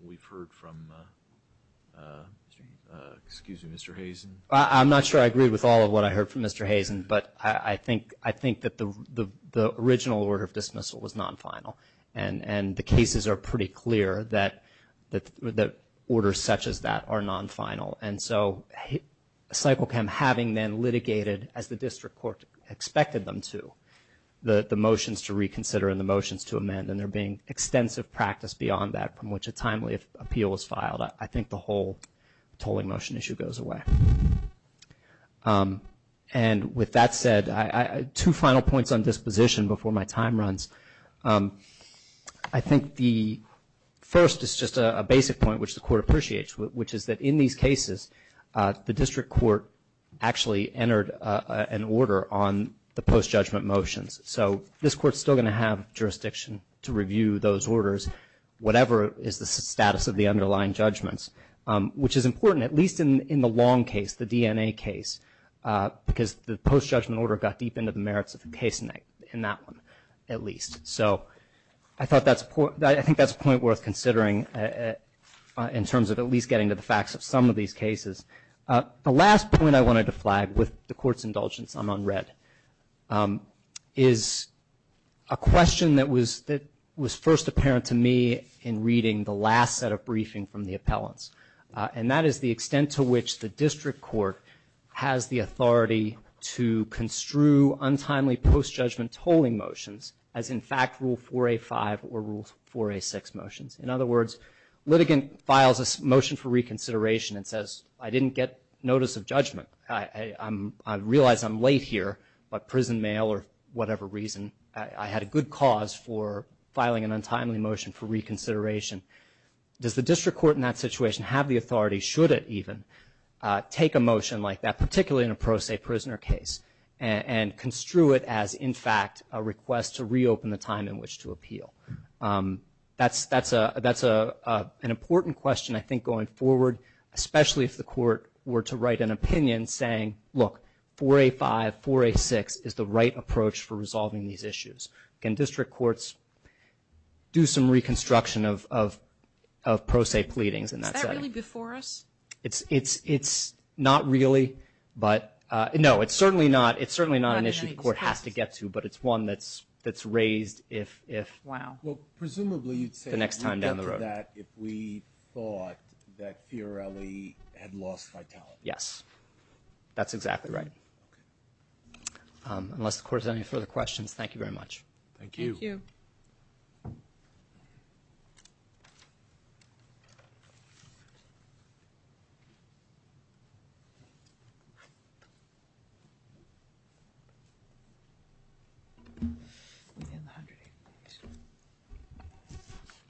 we've heard from, excuse me, Mr. Hazen? I'm not sure I agree with all of what I heard from Mr. Hazen, but I think that the original order of dismissal was non-final. And the cases are pretty clear that orders such as that are non-final. And so cycle PEM having been litigated as the district court expected them to, the motions to reconsider and the motions to amend, and there being extensive practice beyond that from which a timely appeal is filed, I think the whole tolling motion issue goes away. And with that said, two final points on disposition before my time runs. I think the first is just a basic point which the court appreciates, which is that in these cases, the district court actually entered an order on the post-judgment motions. So this court is still going to have jurisdiction to review those orders, whatever is the status of the underlying judgments, which is important at least in the long case, the DNA case, because the post-judgment order got deep into the merits of the case in that one at least. So I thought that's a point worth considering in terms of at least getting to the facts of some of these cases. The last point I wanted to flag with the court's indulgence, I'm unread, is a question that was first apparent to me in reading the last set of briefing from the appellants. And that is the extent to which the district court has the authority to construe untimely post-judgment tolling motions as in fact Rule 4A.5 or Rule 4A.6 motions. In other words, litigant files a motion for reconsideration and says, I didn't get notice of judgment. I realize I'm late here by prison mail or whatever reason. I had a good cause for filing an untimely motion for reconsideration. Does the district court in that situation have the authority, should it even, take a motion like that, particularly in a pro se prisoner case and construe it as in fact a request to reopen the time in which to appeal? That's an important question, I think, going forward, especially if the court were to write an opinion saying, look, 4A.5, 4A.6 is the right approach for resolving these issues. Can district courts do some reconstruction of pro se pleadings in that setting? Is that really before us? It's not really, but no, it's certainly not an issue the court has to get to, but it's one that's raised if the next time down the road. Presumably you'd say we'd get that if we thought that PRLE had lost vitality. Yes, that's exactly right. Unless the court has any further questions, thank you very much. Thank you.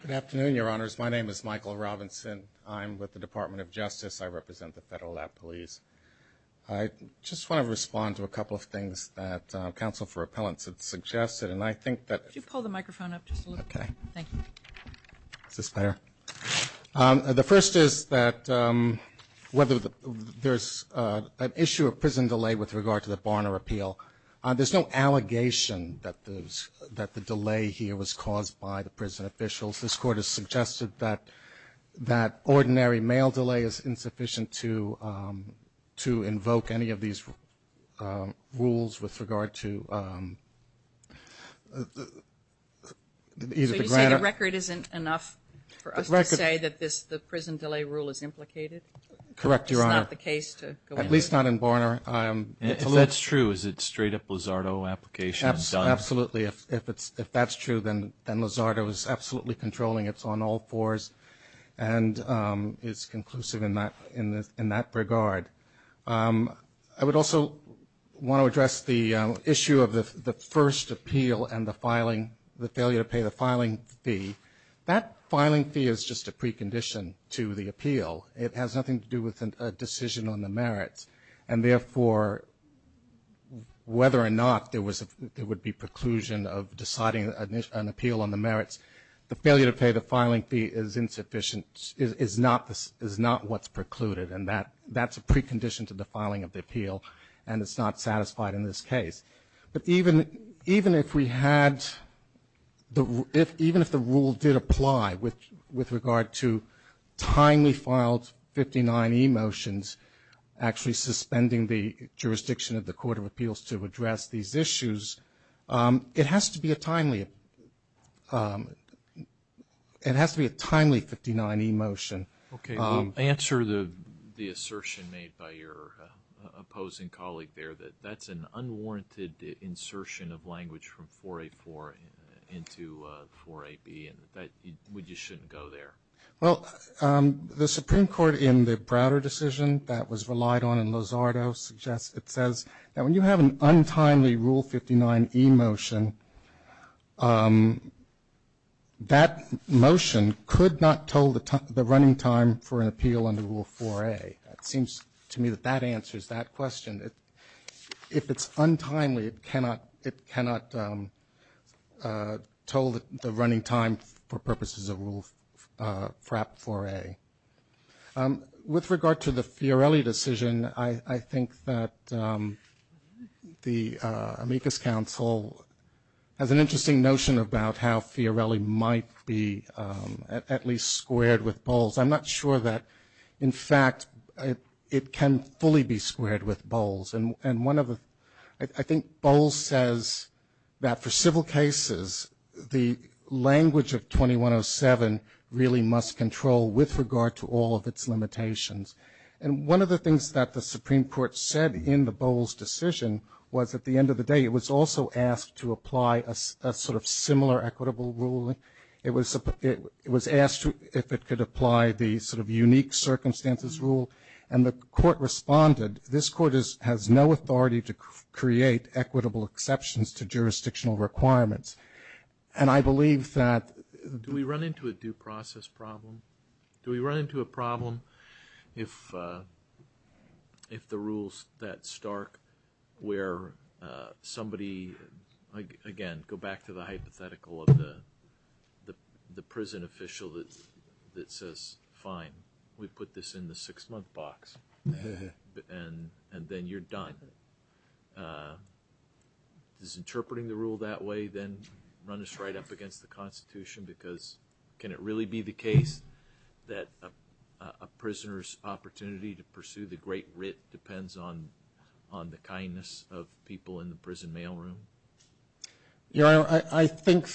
Good afternoon, Your Honors. My name is Michael Robinson. I'm with the Department of Justice. I represent the Federal Lab Police. I just want to respond to a couple of things that counsel for appellants had suggested, and I think that- Could you pull the microphone up just a little bit? Okay. Thank you. Just there. The first is that whether there's an issue of prison delay with regard to the Barner appeal. There's no allegation that the delay here was caused by the prison officials. This court has suggested that ordinary mail delay is insufficient to invoke any of these rules with regard to- So you're saying the record isn't enough for us to say that the prison delay rule is implicated? Correct, Your Honor. It's not the case. At least not in Barner. If that's true, is it straight up Lizardo application? Absolutely. If that's true, then Lizardo is absolutely controlling. It's on all fours, and it's conclusive in that regard. I would also want to address the issue of the first appeal and the failure to pay the filing fee. That filing fee is just a precondition to the appeal. It has nothing to do with a decision on the merit. And, therefore, whether or not there would be preclusion of deciding an appeal on the merits, the failure to pay the filing fee is not what's precluded, and that's a precondition to the filing of the appeal, and it's not satisfied in this case. But even if we had-even if the rule did apply with regard to timely filed 59E motions, actually suspending the jurisdiction of the Court of Appeals to address these issues, it has to be a timely 59E motion. Okay. Answer the assertion made by your opposing colleague there, that that's an unwarranted insertion of language from 484 into 48B, and we just shouldn't go there. Well, the Supreme Court, in the Browder decision that was relied on in Lizardo, it says that when you have an untimely Rule 59E motion, that motion could not toll the running time for an appeal under Rule 4A. It seems to me that that answers that question, that if it's untimely, it cannot toll the running time for purposes of Rule 4A. With regard to the Fiorelli decision, I think that the amicus council has an interesting notion about how Fiorelli might be at least squared with Bowles. I'm not sure that, in fact, it can fully be squared with Bowles. I think Bowles says that for civil cases, the language of 2107 really must control with regard to all of its limitations. And one of the things that the Supreme Court said in the Bowles decision was, at the end of the day, it was also asked to apply a sort of similar equitable ruling. It was asked if it could apply the sort of unique circumstances rule, and the court responded, this court has no authority to create equitable exceptions to jurisdictional requirements. And I believe that... Do we run into a due process problem? Do we run into a problem if the rules that start where somebody, again, go back to the hypothetical of the prison official that says, fine, we've put this in the six-month box. And then you're done. Is interpreting the rule that way, then, run us right up against the Constitution? Because can it really be the case that a prisoner's opportunity to pursue the great writ depends on the kindness of people in the prison mailroom? You know, I think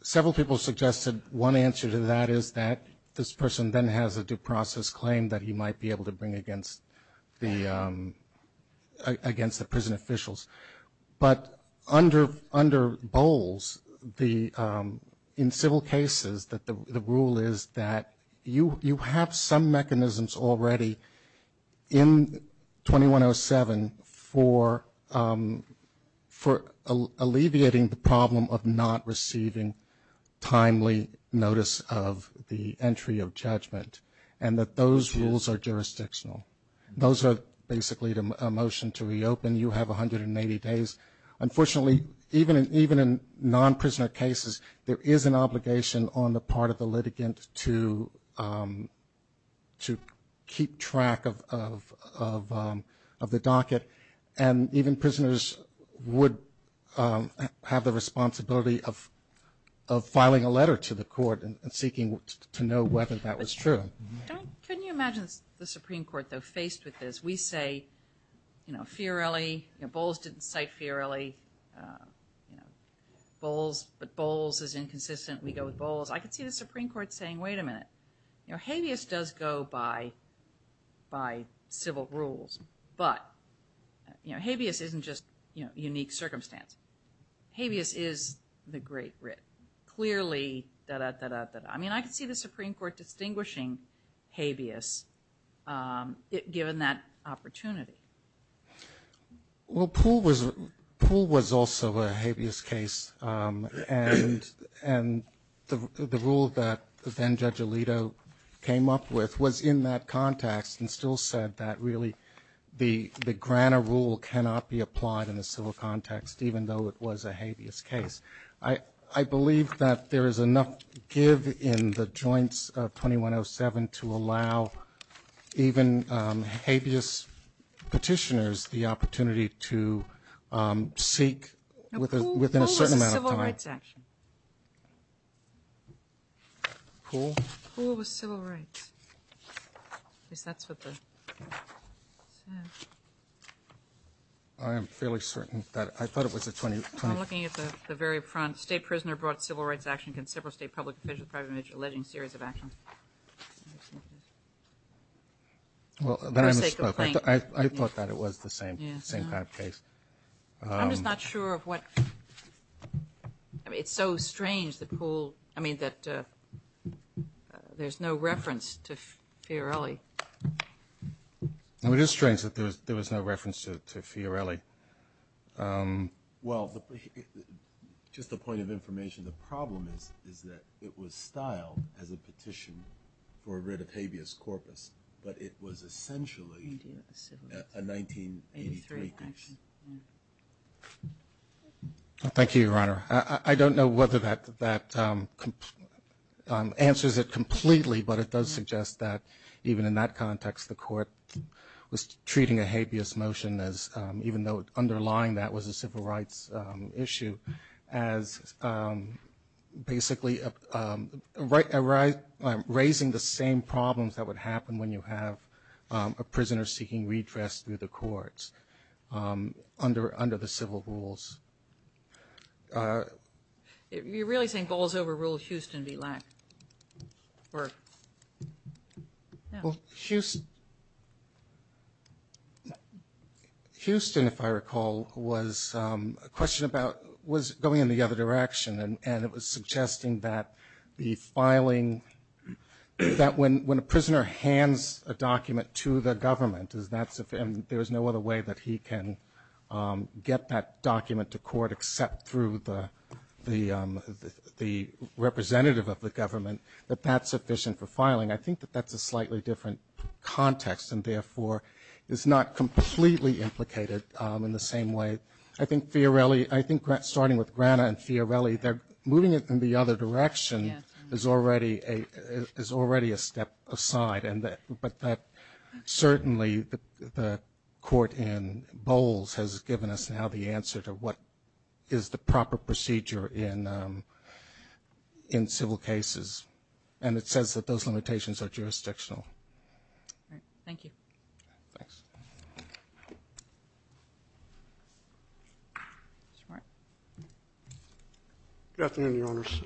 several people suggested one answer to that is that this person then has a due process claim that he might be able to bring against the prison officials. But under Bowles, in civil cases, the rule is that you have some mechanisms already in 2107 for alleviating the problem of not receiving timely notice of the entry of judgment and that those rules are jurisdictional. Those are basically a motion to reopen. You have 180 days. Unfortunately, even in non-prisoner cases, there is an obligation on the part of the litigant to keep track of the docket. And even prisoners would have the responsibility of filing a letter to the court and seeking to know whether that was true. Can you imagine the Supreme Court, though, faced with this? We say fearily – Bowles didn't cite fearily. Bowles – Bowles is inconsistent. We go with Bowles. I can see the Supreme Court saying, wait a minute, habeas does go by civil rules, but habeas isn't just unique circumstance. Habeas is the great writ. Clearly – I mean, I can see the Supreme Court distinguishing habeas given that opportunity. Well, Poole was also a habeas case, and the rule that then Judge Alito came up with was in that context and still said that really the granter rule cannot be applied in a civil context, even though it was a habeas case. I believe that there is enough give in the joints of 2107 to allow even habeas petitioners the opportunity to seek within a certain amount of time – Now, Poole was a civil rights action. Poole? Poole was civil rights. Yes, that's what the – I am fairly certain that – I thought it was a – I'm looking at the very front. State prisoner brought civil rights action against several state public officials prior to the alleged series of actions. Well, I thought that it was the same type of case. I'm just not sure of what – I mean, it's so strange that Poole – I mean, that there's no reference to Fiorelli. It is strange that there was no reference to Fiorelli. Well, just a point of information. The problem is that it was styled as a petition for writ of habeas corpus, but it was essentially a 1983 petition. Thank you, Your Honor. I don't know whether that answers it completely, but it does suggest that even in that context, the court was treating a habeas motion as – even though underlying that was a civil rights issue as basically raising the same problems that would happen when you have a prisoner seeking redress through the courts under the civil rules. You really think all's over rule Houston would be last? Well, Houston, if I recall, was a question about – was going in the other direction, and it was suggesting that the filing – that when a prisoner hands a document to the government, and there's no other way that he can get that document to court except through the representative of the government, that that's sufficient for filing. I think that that's a slightly different context and, therefore, is not completely implicated in the same way. I think Fiorelli – I think starting with Grana and Fiorelli, moving it in the other direction is already a step aside, but certainly the court in Bowles has given us now the answer to what is the proper procedure in civil cases, and it says that those limitations are jurisdictional. All right. Thank you. Thanks. Mr. Martin. Good afternoon, Your Honors.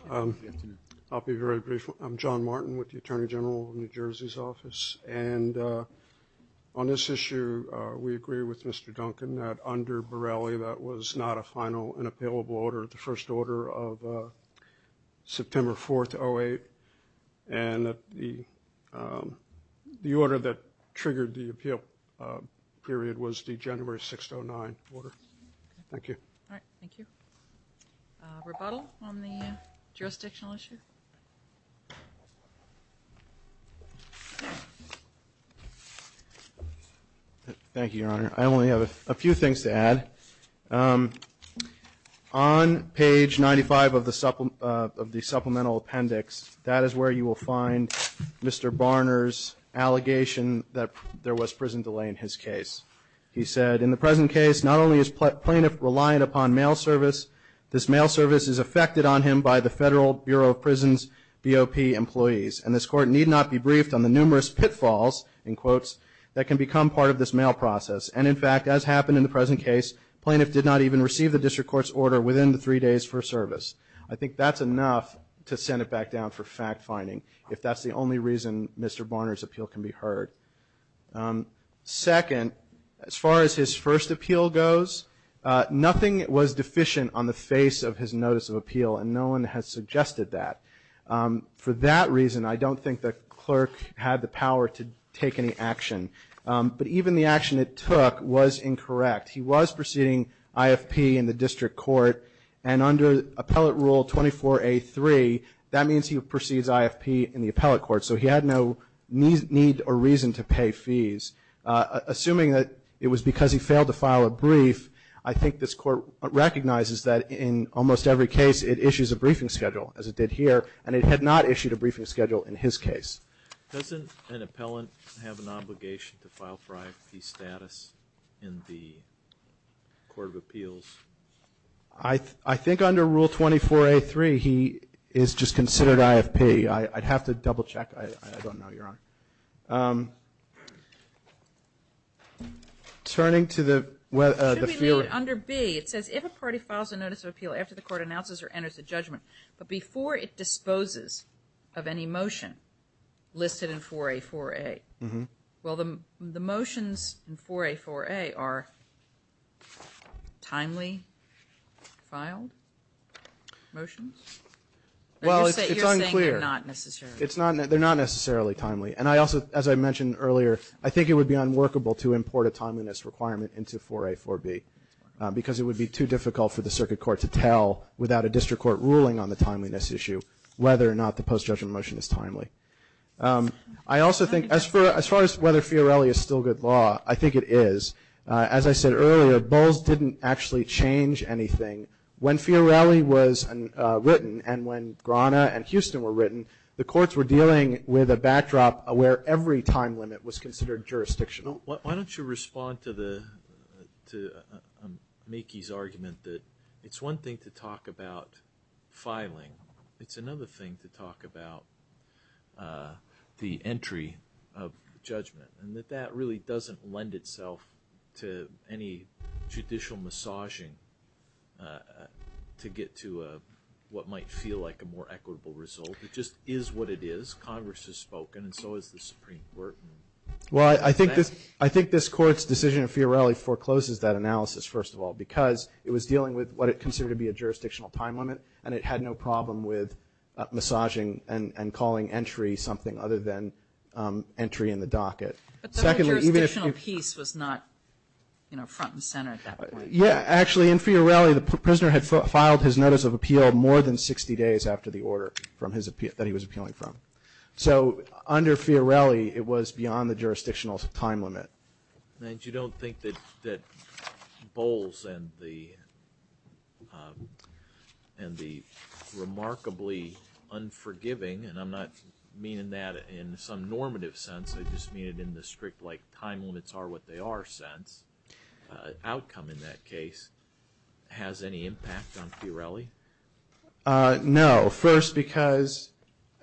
I'll be very brief. I'm John Martin with the Attorney General of New Jersey's office, and on this issue we agree with Mr. Duncan that under Borelli that was not a final and appealable order. The first order of September 4th, 2008, and the order that triggered the appeal period was the January 6th, 2009 order. Thank you. All right. Thank you. Rebuttal on the jurisdictional issue? Thank you, Your Honor. I only have a few things to add. On page 95 of the supplemental appendix, that is where you will find Mr. Barner's allegation that there was prison delay in his case. He said, in the present case, not only is plaintiff reliant upon mail service, this mail service is affected on him by the Federal Bureau of Prisons BOP employees, and this court need not be briefed on the numerous pitfalls, in quotes, that can become part of this mail process. And, in fact, as happened in the present case, plaintiff did not even receive the district court's order within the three days for service. I think that's enough to send it back down for fact-finding, if that's the only reason Mr. Barner's appeal can be heard. Second, as far as his first appeal goes, nothing was deficient on the face of his notice of appeal, and no one has suggested that. For that reason, I don't think the clerk had the power to take any action. But even the action it took was incorrect. He was proceeding IFP in the district court, and under Appellate Rule 24A.3, that means he proceeds IFP in the appellate court, so he had no need or reason to pay fees. Assuming that it was because he failed to file a brief, I think this court recognizes that in almost every case it issues a briefing schedule, as it did here, and it had not issued a briefing schedule in his case. Doesn't an appellant have an obligation to file for IFP status in the Court of Appeals? I think under Rule 24A.3, he is just considered IFP. I'd have to double-check. I don't know. You're on. Turning to the field. Under B, it says, if a party files a notice of appeal after the court announces or enters a judgment, but before it disposes of any motion listed in 4A.4.A. Well, the motions in 4A.4.A. are timely motions? Well, it's unclear. They're not necessarily timely, and I also, as I mentioned earlier, I think it would be unworkable to import a timeliness requirement into 4A.4.B. because it would be too difficult for the circuit court to tell, without a district court ruling on the timeliness issue, whether or not the post-judgment motion is timely. I also think, as far as whether Fiorelli is still good law, I think it is. As I said earlier, Bowles didn't actually change anything. When Fiorelli was written and when Grana and Houston were written, the courts were dealing with a backdrop where every time limit was considered jurisdictional. Why don't you respond to Mickey's argument that it's one thing to talk about filing. It's another thing to talk about the entry of judgment, and that that really doesn't lend itself to any judicial massaging to get to what might feel like a more equitable result. It just is what it is. Congress has spoken, and so has the Supreme Court. Well, I think this Court's decision of Fiorelli forecloses that analysis, first of all, because it was dealing with what it considered to be a jurisdictional time limit, and it had no problem with massaging and calling entry something other than entry in the docket. But the jurisdictional piece was not front and center at that point. Yeah. Actually, in Fiorelli, the prisoner had filed his notice of appeal more than 60 days after the order that he was appealing from. So under Fiorelli, it was beyond the jurisdictional time limit. And you don't think that Bowles and the remarkably unforgiving, and I'm not meaning that in some normative sense, I just mean it in the strict like time limits are what they are sense, outcome in that case, has any impact on Fiorelli? No. First, because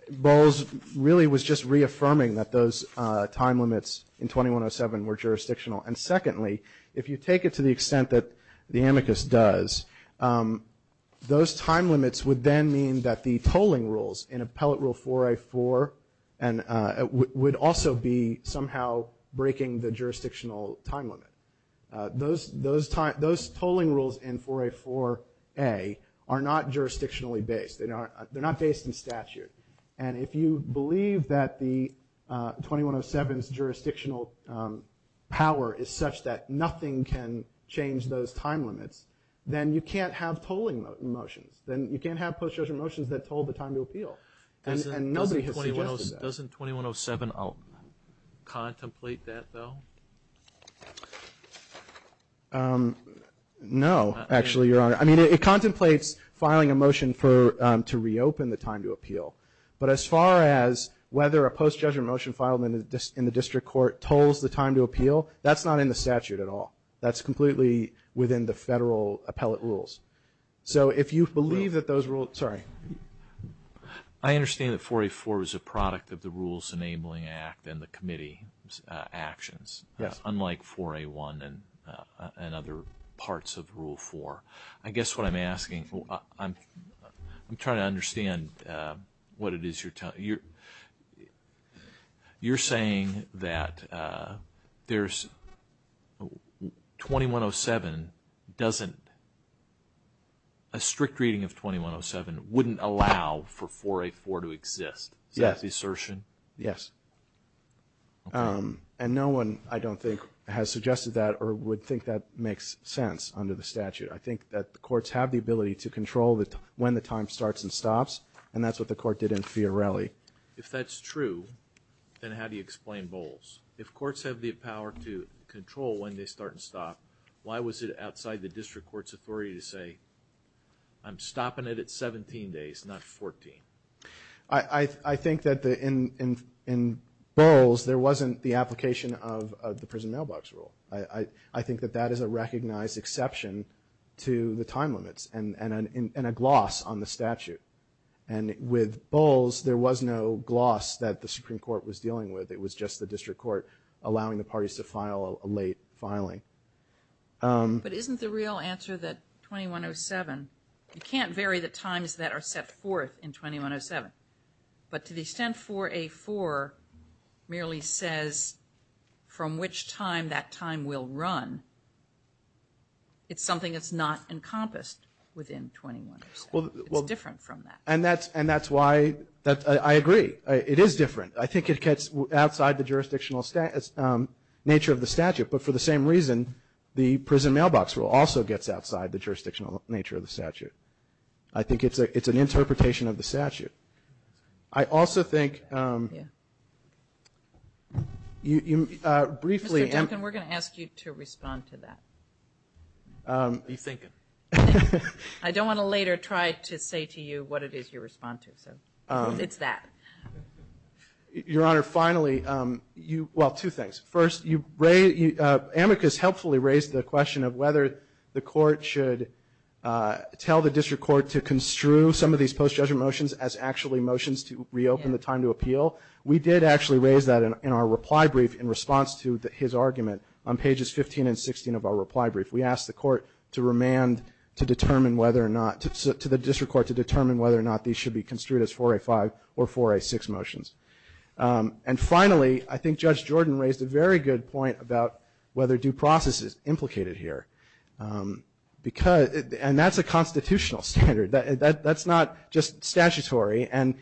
Bowles really was just reaffirming that those time limits in 2107 were jurisdictional. And secondly, if you take it to the extent that the amicus does, those time limits would then mean that the tolling rules in Appellate Rule 4A4 would also be somehow breaking the jurisdictional time limit. Those tolling rules in 4A4A are not jurisdictionally based. They're not based in statute. And if you believe that the 2107's jurisdictional power is such that nothing can change those time limits, then you can't have tolling motions. Then you can't have post-judgmental motions that told the time to appeal. And nobody has suggested that. Doesn't 2107 contemplate that, though? No, actually, Your Honor. I mean, it contemplates filing a motion to reopen the time to appeal. But as far as whether a post-judgmental motion filed in the district court tolls the time to appeal, that's not in the statute at all. That's completely within the federal appellate rules. So if you believe that those rules – sorry. I understand that 4A4 is a product of the Rules Enabling Act and the committee's actions, unlike 4A1 and other parts of Rule 4. I guess what I'm asking – I'm trying to understand what it is you're telling – wouldn't allow for 4A4 to exist? Do you have the assertion? Yes. And no one, I don't think, has suggested that or would think that makes sense under the statute. I think that courts have the ability to control when the time starts and stops, and that's what the court did in Fiorelli. If that's true, then how do you explain Bowles? If courts have the power to control when they start and stop, why was it outside the district court's authority to say, I'm stopping it at 17 days, not 14? I think that in Bowles, there wasn't the application of the prison mailbox rule. I think that that is a recognized exception to the time limits and a gloss on the statute. And with Bowles, there was no gloss that the Supreme Court was dealing with. It was just the district court allowing the parties to file a late filing. But isn't the real answer that 2107 – you can't vary the times that are set forth in 2107. But to the extent 4A4 merely says from which time that time will run, it's something that's not encompassed within 2107. It's different from that. And that's why – I agree. It is different. I think it gets outside the jurisdictional nature of the statute. But for the same reason, the prison mailbox rule also gets outside the jurisdictional nature of the statute. I think it's an interpretation of the statute. I also think – briefly – We're going to ask you to respond to that. I don't want to later try to say to you what it is you're responding to. It's that. Your Honor, finally – well, two things. First, Amicus helpfully raised the question of whether the court should tell the district court to construe some of these post-judgment motions as actually motions to reopen the time to appeal. We did actually raise that in our reply brief in response to his argument on pages 15 and 16 of our reply brief. We asked the court to remand to determine whether or not – to the district court to determine whether or not these should be construed as 4A5 or 4A6 motions. And finally, I think Judge Jordan raised a very good point about whether due process is implicated here. And that's a constitutional standard. That's not just statutory. And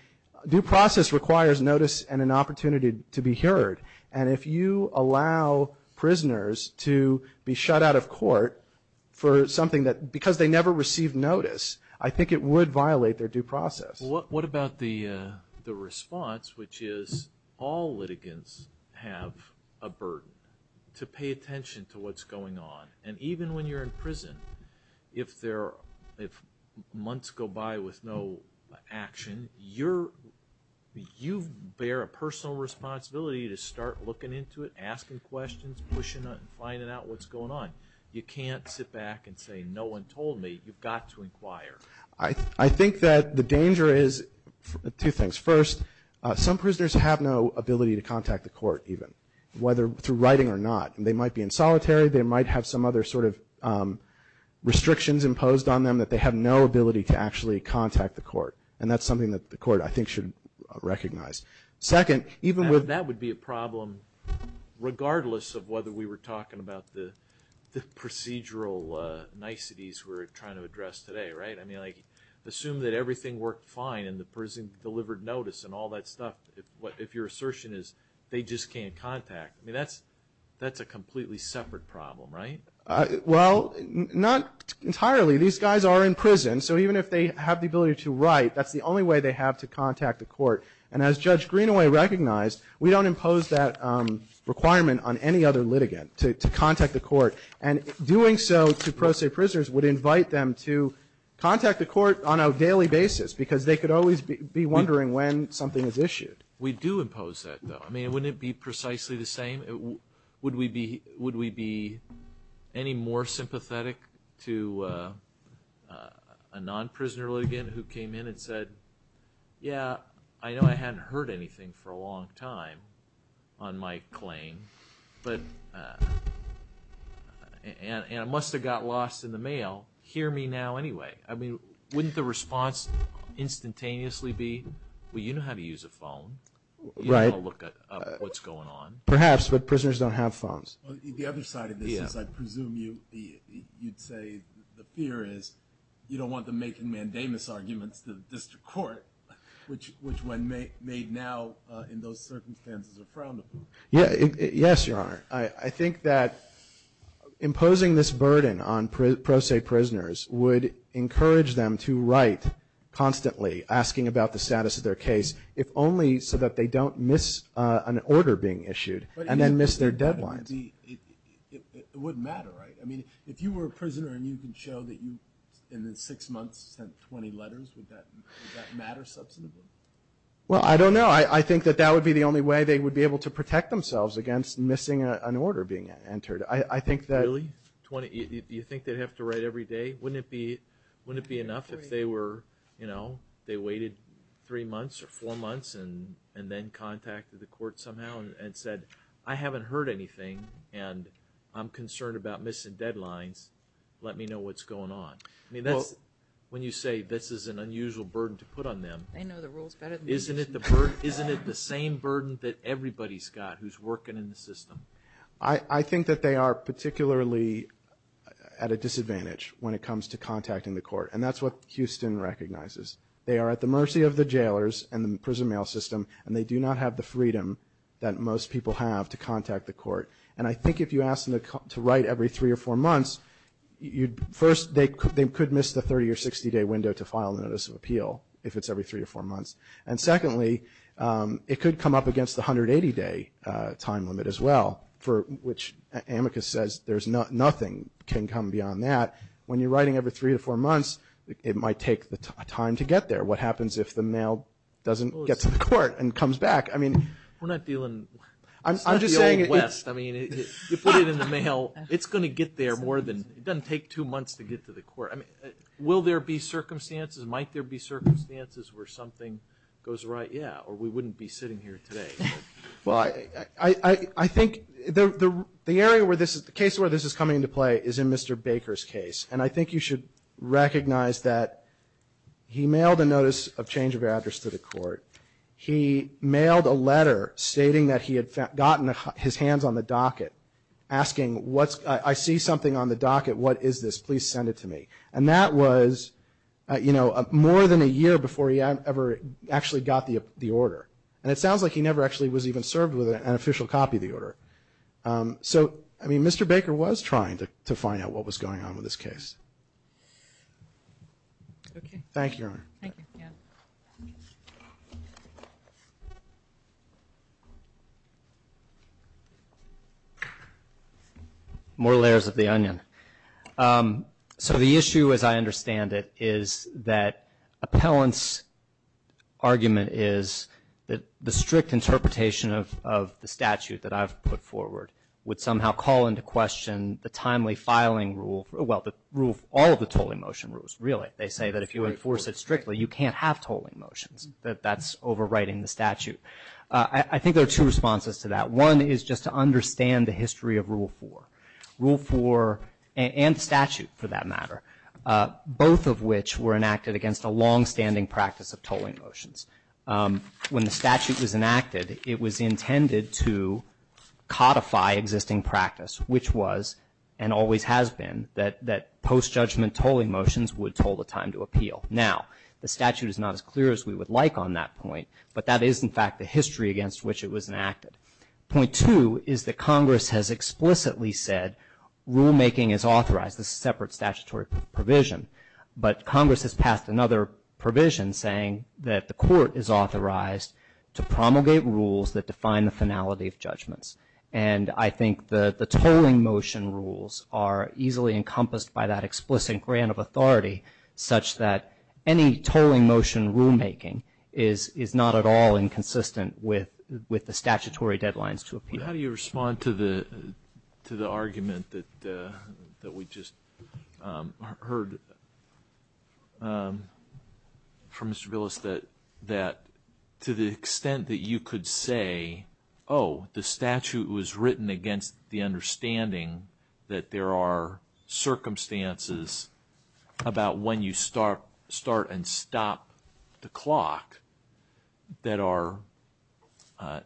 due process requires notice and an opportunity to be heard. And if you allow prisoners to be shut out of court for something that – because they never received notice, I think it would violate their due process. Well, what about the response, which is all litigants have a burden to pay attention to what's going on. And even when you're in prison, if months go by with no action, you bear a personal responsibility to start looking into it, asking questions, pushing it, and finding out what's going on. You can't sit back and say, no one told me. You've got to inquire. I think that the danger is two things. First, some prisoners have no ability to contact the court even, whether through writing or not. They might be in solitary. They might have some other sort of restrictions imposed on them that they have no ability to actually contact the court. And that's something that the court, I think, should recognize. Second, even with – That would be a problem regardless of whether we were talking about the procedural niceties we're trying to address today, right? I mean, like, assume that everything worked fine and the person delivered notice and all that stuff. If your assertion is they just can't contact, I mean, that's a completely separate problem, right? Well, not entirely. These guys are in prison. So even if they have the ability to write, that's the only way they have to contact the court. And as Judge Greenaway recognized, we don't impose that requirement on any other litigant to contact the court. And doing so to pro se prisoners would invite them to contact the court on a daily basis because they could always be wondering when something is issued. We do impose that, though. I mean, wouldn't it be precisely the same? Would we be any more sympathetic to a non-prisoner litigant who came in and said, yeah, I know I hadn't heard anything for a long time on my claim, and I must have got lost in the mail. Hear me now anyway. I mean, wouldn't the response instantaneously be, well, you know how to use a phone. You know how to look up what's going on. Perhaps, but prisoners don't have phones. On the other side of this, I presume you'd say the fear is you don't want them making mandamus arguments to the district court, which when made now in those circumstances are frownable. Yes, Your Honor. I think that imposing this burden on pro se prisoners would encourage them to write constantly, asking about the status of their case, if only so that they don't miss an order being issued and then miss their deadline. It wouldn't matter, right? I mean, if you were a prisoner and you can show that you in six months sent 20 letters, would that matter substantively? Well, I don't know. I think that that would be the only way they would be able to protect themselves against missing an order being entered. Really? Do you think they'd have to write every day? Wouldn't it be enough if they waited three months or four months and then contacted the court somehow and said, I haven't heard anything and I'm concerned about missing deadlines. Let me know what's going on. When you say this is an unusual burden to put on them, isn't it the same burden that everybody's got who's working in the system? I think that they are particularly at a disadvantage when it comes to contacting the court, and that's what Houston recognizes. They are at the mercy of the jailers and the prison mail system, and they do not have the freedom that most people have to contact the court. And I think if you ask them to write every three or four months, first, they could miss the 30- or 60-day window to file a notice of appeal if it's every three or four months. And secondly, it could come up against the 180-day time limit as well, for which Amicus says nothing can come beyond that. When you're writing every three or four months, it might take time to get there. What happens if the mail doesn't get to the court and comes back? I mean, we're not dealing with West. I mean, you put it in the mail. It's going to get there more than – it doesn't take two months to get to the court. Will there be circumstances? Might there be circumstances where something goes right? Yeah, or we wouldn't be sitting here today. Well, I think the case where this is coming into play is in Mr. Baker's case, and I think you should recognize that he mailed a notice of change of address to the court. He mailed a letter stating that he had gotten his hands on the docket asking, I see something on the docket. What is this? Please send it to me. And that was, you know, more than a year before he ever actually got the order. And it sounds like he never actually was even served with an official copy of the order. So, I mean, Mr. Baker was trying to find out what was going on with this case. Thank you. Thank you. More layers of the onion. So the issue, as I understand it, is that appellant's argument is that the strict interpretation of the statute that I've put forward would somehow call into question the timely filing rule – well, all of the tolling motion rules, really. They say that if you enforce it strictly, you can't have tolling motions. That that's overriding the statute. I think there are two responses to that. One is just to understand the history of Rule 4. Rule 4 and statute, for that matter, both of which were enacted against a longstanding practice of tolling motions. When the statute was enacted, it was intended to codify existing practice, which was and always has been that post-judgment tolling motions would toll the time to appeal. Now, the statute is not as clear as we would like on that point, but that is, in fact, the history against which it was enacted. Point two is that Congress has explicitly said rulemaking is authorized. This is a separate statutory provision. But Congress has passed another provision saying that the court is authorized to promulgate rules that define the finality of judgments. And I think the tolling motion rules are easily encompassed by that explicit grant of authority, such that any tolling motion rulemaking is not at all inconsistent with the statutory deadlines to appeal. How do you respond to the argument that we just heard from Mr. Willis that to the extent that you could say, oh, the statute was written against the understanding that there are circumstances about when you start and stop the clock that are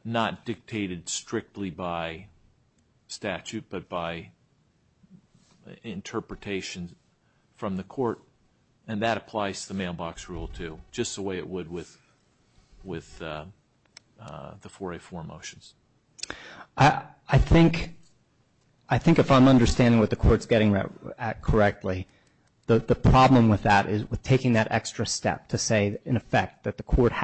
not dictated strictly by statute but by interpretation from the court, and that applies to the mailbox rule, too, just the way it would with the 4A4 motions? I think if I'm understanding what the court's getting at correctly, the problem with that is we're taking that extra step to say, in effect, that the court has to be able to